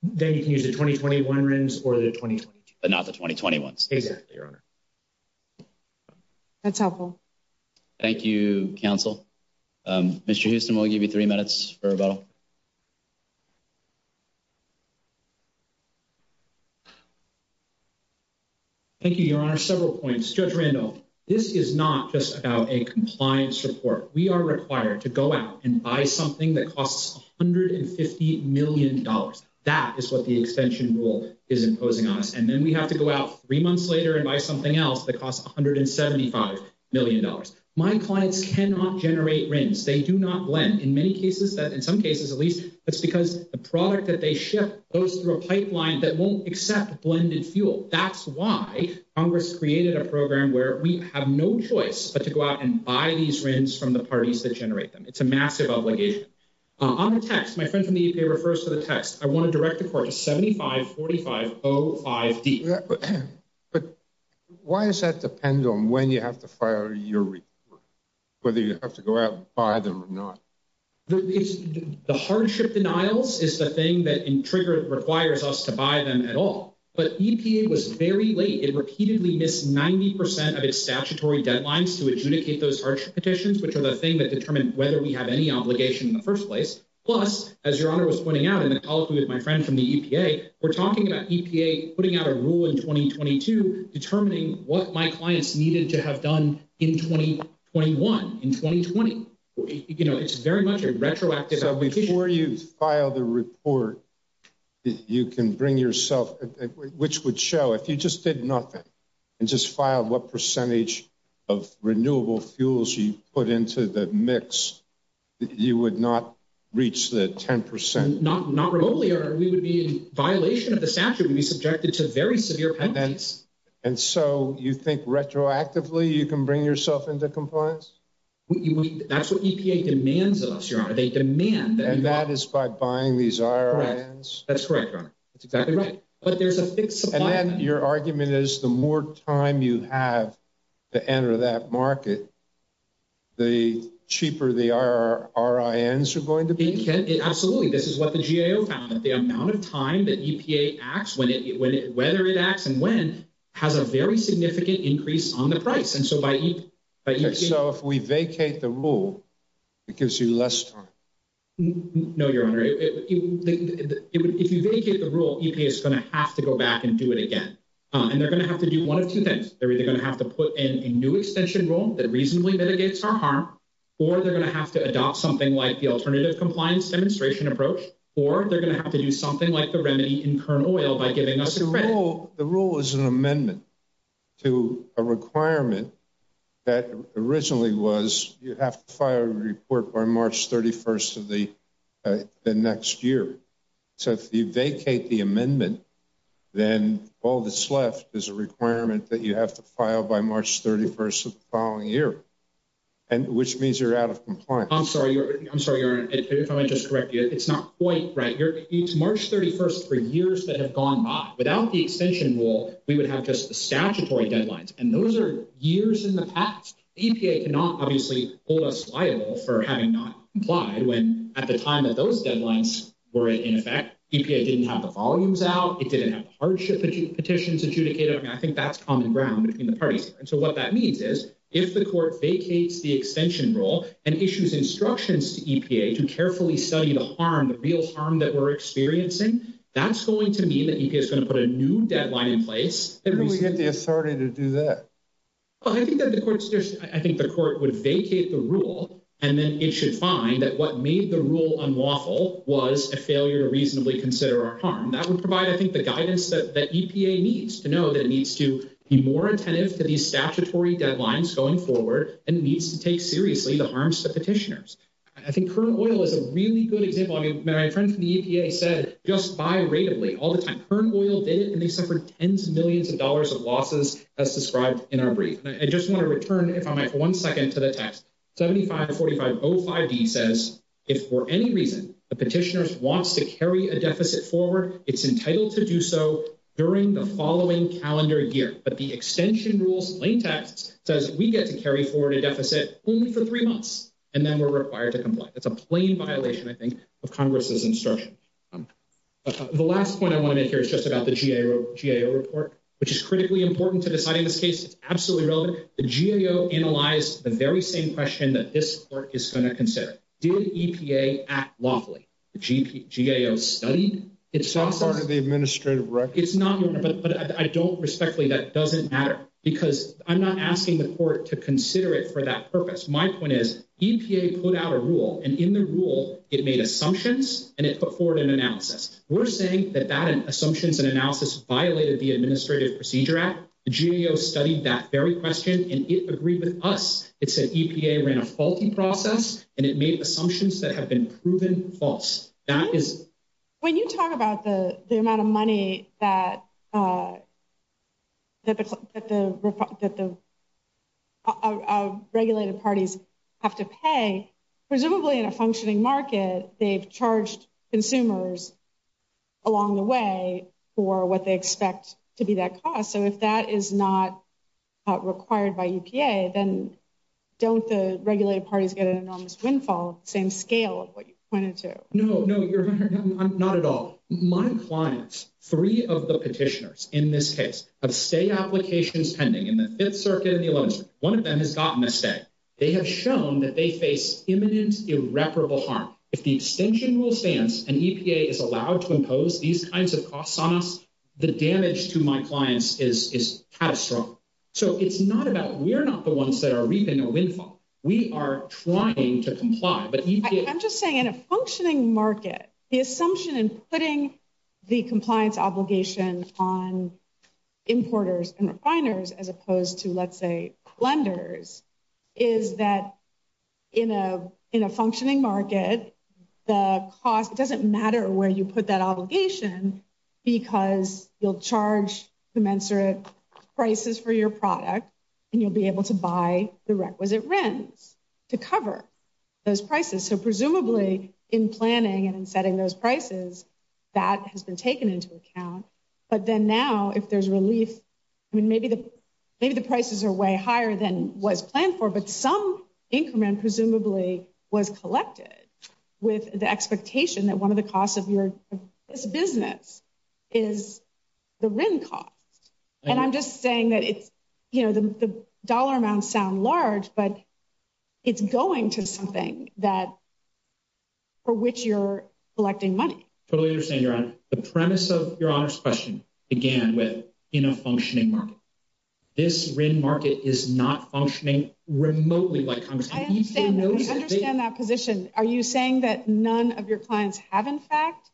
Then you can use the 2021 RINs or the 2022. But not the 2021s. Exactly, Your Honor. That's helpful. Thank you, counsel. Mr. Houston, we'll give you three minutes for rebuttal. Thank you, Your Honor. Several points. Judge Randolph, this is not just about a compliance report. We are required to go out and buy something that costs $150 million. That is what the extension rule is imposing on us. And then we have to go out three months later and buy something else that costs $175 million. My clients cannot generate RINs. They do not lend. In many cases, in some cases, at least, it's because the product that they ship goes through a pipeline that won't accept blended fuel. That's why Congress created a program where we have no choice but to go out and buy these RINs from the parties that generate them. It's a massive obligation. On the text, my friend from the EPA refers to the text. I want to direct the court to 7545.05d. But why does that depend on when you have to file your report? Whether you have to go out and buy them or not. The hardship denials is the thing that triggers, requires us to buy them at all. But EPA was very late. It repeatedly missed 90% of its statutory deadlines to adjudicate those hardship petitions, which are the thing that determined whether we have any obligation in the first place. Plus, as Your Honor was pointing out in the call with my friend from the EPA, we're talking about EPA putting out a rule in 2022 determining what my clients needed to have done in 2021, in 2020. You know, it's very much a retroactive application. So before you file the report, you can bring yourself, which would show if you just did nothing and just filed what percentage of renewable fuels you put into the mix, you would not reach the 10%. Not remotely, or we would be in violation of the statute, we would be subjected to very severe penalties. And so you think retroactively, you can bring yourself into compliance? That's what EPA demands of us, Your Honor. They demand that. And that is by buying these RINs? That's correct, Your Honor. That's exactly right. But there's a fixed supply. And then your argument is the more time you have to enter that market, the cheaper the RINs are going to be? Absolutely. This is what the GAO found, that the amount of time that EPA acts, whether it acts and when, has a very significant increase on price. So if we vacate the rule, it gives you less time? No, Your Honor. If you vacate the rule, EPA is going to have to go back and do it again. And they're going to have to do one of two things. They're either going to have to put in a new extension rule that reasonably mitigates our harm, or they're going to have to adopt something like the alternative compliance demonstration approach, or they're going to have to do something like the that originally was you have to file a report by March 31st of the next year. So if you vacate the amendment, then all that's left is a requirement that you have to file by March 31st of the following year, which means you're out of compliance. I'm sorry, Your Honor. If I might just correct you, it's not quite right. It's March 31st for years that have gone by. Without the extension rule, we would have just statutory deadlines. And those are years in the past. EPA cannot obviously hold us liable for having not complied when at the time that those deadlines were in effect, EPA didn't have the volumes out, it didn't have the hardship petitions adjudicated. I think that's common ground between the parties. And so what that means is if the court vacates the extension rule and issues instructions to EPA to carefully study the harm, the real harm that we're experiencing, that's going to mean that EPA is going to put a new deadline in place. How do we get the authority to do that? I think the court would vacate the rule and then it should find that what made the rule unlawful was a failure to reasonably consider our harm. That would provide, I think, the guidance that EPA needs to know that it needs to be more attentive to these statutory deadlines going forward and needs to take seriously the harms to petitioners. I think current oil is a really good example. My friend from the EPA said just by rateably all the time, current oil did it and they suffered tens of millions of dollars of losses as described in our brief. I just want to return if I might for one second to the text. 754505B says if for any reason a petitioner wants to carry a deficit forward, it's entitled to do so during the following calendar year. But the extension rules plain text says we get to carry forward a deficit only for three months and then we're required to comply. That's a plain violation, I think, of Congress's instruction. The last point I want to make here is just about the GAO report, which is critically important to deciding this case. It's absolutely relevant. The GAO analyzed the very same question that this court is going to consider. Did EPA act lawfully? The GAO studied its process. It's not part of the administrative record. It's not, but I don't respectfully, that doesn't matter because I'm not asking the court to consider it for that purpose. My point is EPA put out a rule and in the rule it made assumptions and it put forward an analysis. We're saying that that assumptions and analysis violated the Administrative Procedure Act. The GAO studied that very question and it agreed with us. It said EPA ran a faulty process and it made assumptions that have been proven false. When you talk about the amount of money that the regulated parties have to pay, presumably in a functioning market, they've charged consumers along the way for what they expect to be that cost. If that is not required by EPA, then don't the regulated parties get an enormous windfall of the same scale of what you pointed to? No, not at all. My clients, three of the petitioners in this case, have stay applications pending in the 5th Circuit and the 11th Circuit. One of them has gotten a stay. They have shown that they face imminent irreparable harm. If the extension rule stands and EPA is allowed to impose these kinds of costs on us, the damage to my clients is catastrophic. So it's not about, we're not the ones that are reaping a windfall. We are trying to comply. I'm just saying in a functioning market, the assumption in putting the compliance obligation on importers and refiners as opposed to, let's say, lenders, is that in a functioning market, the cost doesn't matter where you put that obligation because you'll charge commensurate prices for your product and you'll be able to buy the requisite RINs to cover those prices. So presumably, in planning and in setting those prices, that has been taken into account. But then now, if there's relief, I mean, maybe the prices are way higher than was planned for, but some increment presumably was collected with the expectation that one of the costs of this business is the RIN cost. And I'm just saying that it's, you know, the dollar amounts sound large, but it's going to something that, for which you're collecting money. Totally understand, Your Honor. The premise of Your Honor's question began with, in a functioning market. This RIN market is not functioning remotely. I understand that position. Are you saying that none of your clients have, in fact,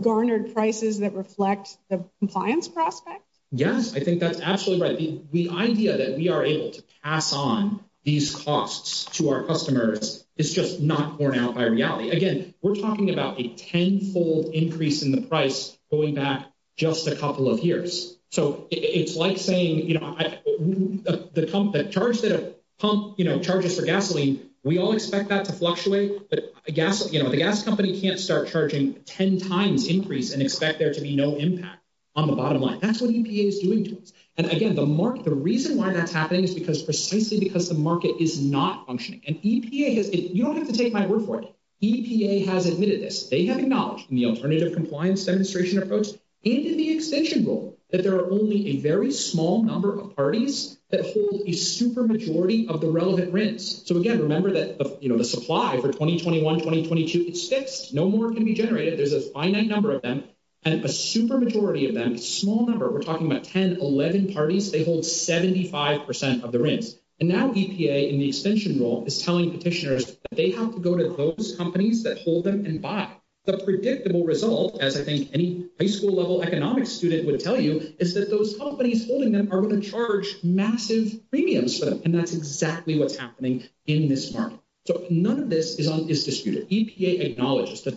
garnered prices that reflect the compliance prospect? Yes, I think that's absolutely right. The idea that we are able to pass on these costs to our customers is just not borne out by reality. Again, we're talking about a tenfold increase in the price going back just a couple of years. So it's like saying, you know, the pump that charges for gasoline, we all expect that to fluctuate, but the gas company can't start charging a ten times increase and expect there to be no impact on the bottom line. That's what EPA is doing to us. And again, the reason why that's happening is because precisely because the market is not functioning. And EPA has, you don't have to take my word for it, EPA has admitted this. They have acknowledged in the alternative compliance demonstration approach and in the extension rule that there are only a very small number of parties that hold a super majority of the relevant RINs. So again, remember that, you know, the supply for 2021, 2022, it's fixed. No more can be generated. There's a finite number of them and a super majority of them, small number, we're talking about 10, 11 parties, they hold 75% of the RINs. And now EPA in the extension rule is telling petitioners that they have to go to those companies that hold them and buy. The predictable result, as I think any high school level economics student would tell you, is that those companies holding them are going to charge massive premiums for them. And that's the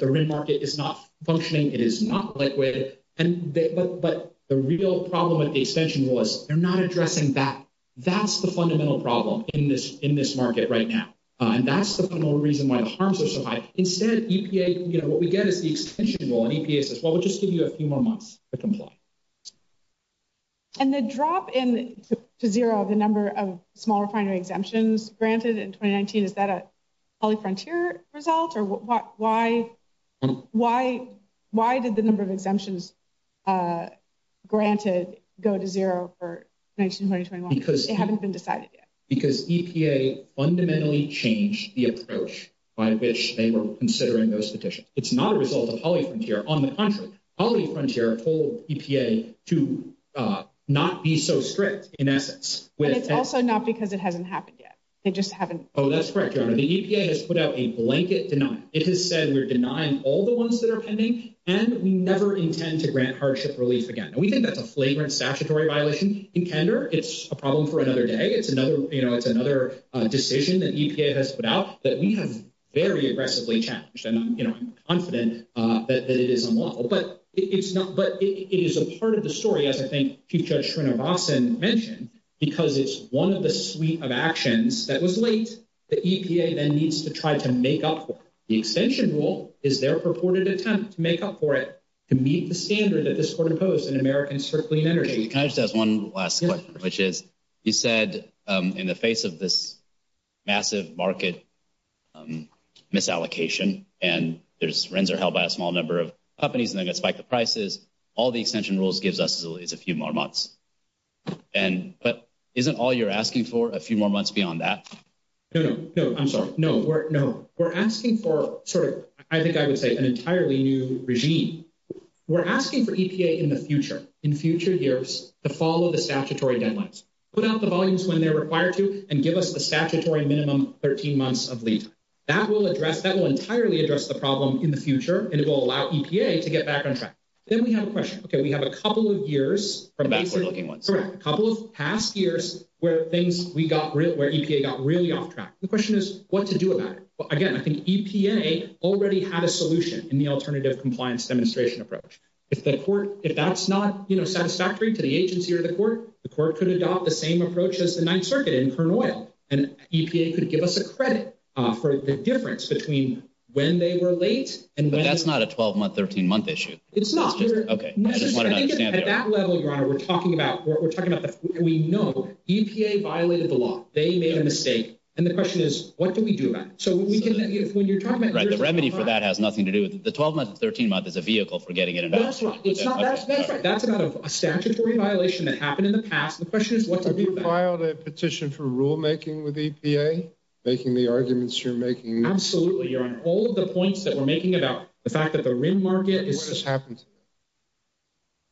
RIN market is not functioning. It is not liquid. But the real problem with the extension rule is they're not addressing that. That's the fundamental problem in this market right now. And that's the fundamental reason why the harms are so high. Instead, EPA, you know, what we get is the extension rule and EPA says, well, we'll just give you a few more months to comply. And the drop in to zero, the number of small refinery exemptions granted in 2019, is that a Poly-Frontier result? Or why did the number of exemptions granted go to zero for 19, 20, 21? Because they haven't been decided yet. Because EPA fundamentally changed the approach by which they were considering those petitions. It's not a result of Poly-Frontier. On the contrary, Poly-Frontier told EPA to not be so strict in essence. But it's also not because it hasn't happened yet. They just haven't. Oh, that's correct, Your Honor. The EPA has put out a blanket denial. It has said we're denying all the ones that are pending, and we never intend to grant hardship relief again. And we think that's a flagrant statutory violation. In candor, it's a problem for another day. It's another, you know, it's another decision that EPA has put out that we have very aggressively challenged. And, you know, I'm confident that it is unlawful. But it is a part of the story, as I think Chief Judge Srinivasan mentioned, because it's one of the suite of actions that was late that EPA then needs to try to make up for. The extension rule is their purported attempt to make up for it, to meet the standard that this Court imposed in Americans for Clean Energy. Can I just ask one last question, which is you said in the face of this massive market misallocation, and there's rents are held by a small number of companies and they're going to spike the prices, all the extension rules gives us is a few more months. And but isn't all you're asking for a few more months beyond that? No, no, no, I'm sorry. No, we're no, we're asking for sort of, I think I would say an entirely new regime. We're asking for EPA in the future, in future years to follow the statutory deadlines, put out the volumes when they're required to and give us the statutory minimum 13 months of leave. That will address that will entirely address the problem in the future. And it will allow EPA to get back on track. Then we have a question. Okay, we have a couple of years from backward looking ones, a couple of past years where things we got real, where EPA got really off track. The question is what to do about it. But again, I think EPA already had a solution in the alternative compliance demonstration approach. If the Court, if that's not, you know, satisfactory to the agency or the Court, the Court could adopt the same approach as the Ninth Circuit in Kern Oil and EPA could give us a credit for the difference between when they were late. And that's not a 12 month, 13 month issue. It's not. Okay. At that level, Your Honor, we're talking about what we're talking about. We know EPA violated the law. They made a mistake. And the question is, what do we do about it? So when you're talking about the remedy for that has nothing to do with the 12 months, 13 months as a vehicle for getting it. That's right. That's a statutory violation that happened in the past. The question is what to do about it. Have you filed a petition for rule making with EPA, making the arguments you're making? Absolutely, Your Honor. All of the points that we're making about the fact that the rim market is... What has happened?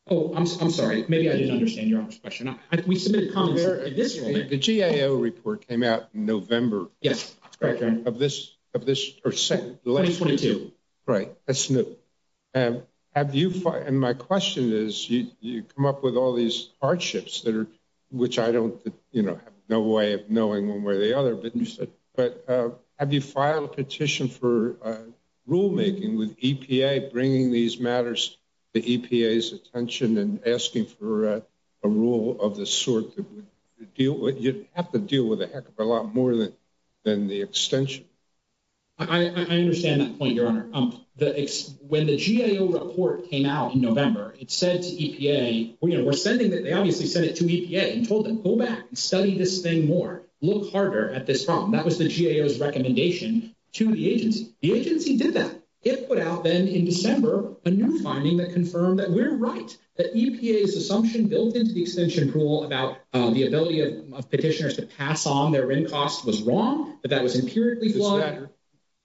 Oh, I'm sorry. Maybe I didn't understand Your Honor's question. We submitted comments... The GAO report came out in November. Yes, that's correct, Your Honor. Of this, of this... 2022. Right. That's new. Have you, and my question is, you come up with all these hardships that are, which I don't, you know, have no way of knowing one way or the other, but you said, but have you filed a petition for rulemaking with EPA, bringing these matters to EPA's attention and asking for a rule of the sort that would deal with... You'd have to deal with a heck of a lot more than the extension. I understand that point, Your Honor. When the GAO report came out in November, it said to EPA, you know, we're sending that, they obviously sent it to EPA and told them, go back and study this thing more, look harder at this problem. That was the GAO's recommendation to the agency. The agency did that. It put out then in December, a new finding that confirmed that we're right, that EPA's assumption built into the extension rule about the ability of petitioners to pass on their rim cost was wrong, that that was empirically flawed. Does that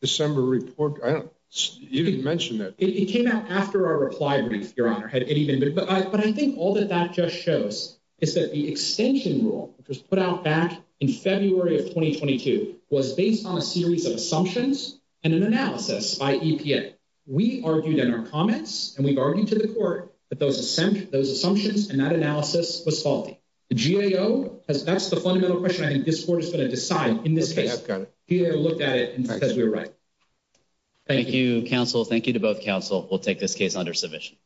December report... I don't... You didn't mention that. It came out after our reply brief, Your Honor. It even... But I think all that that just shows is that the extension rule, which was put out back in February of 2022, was based on a series of assumptions and an analysis by EPA. We argued in our comments and we've argued to the court that those assumptions and that analysis was faulty. The GAO has... That's the fundamental question I think this court is going to decide in this case. Okay, I've got it. GAO looked at it and says we were right. Thank you, counsel. Thank you to both counsel. We'll take this case under submission.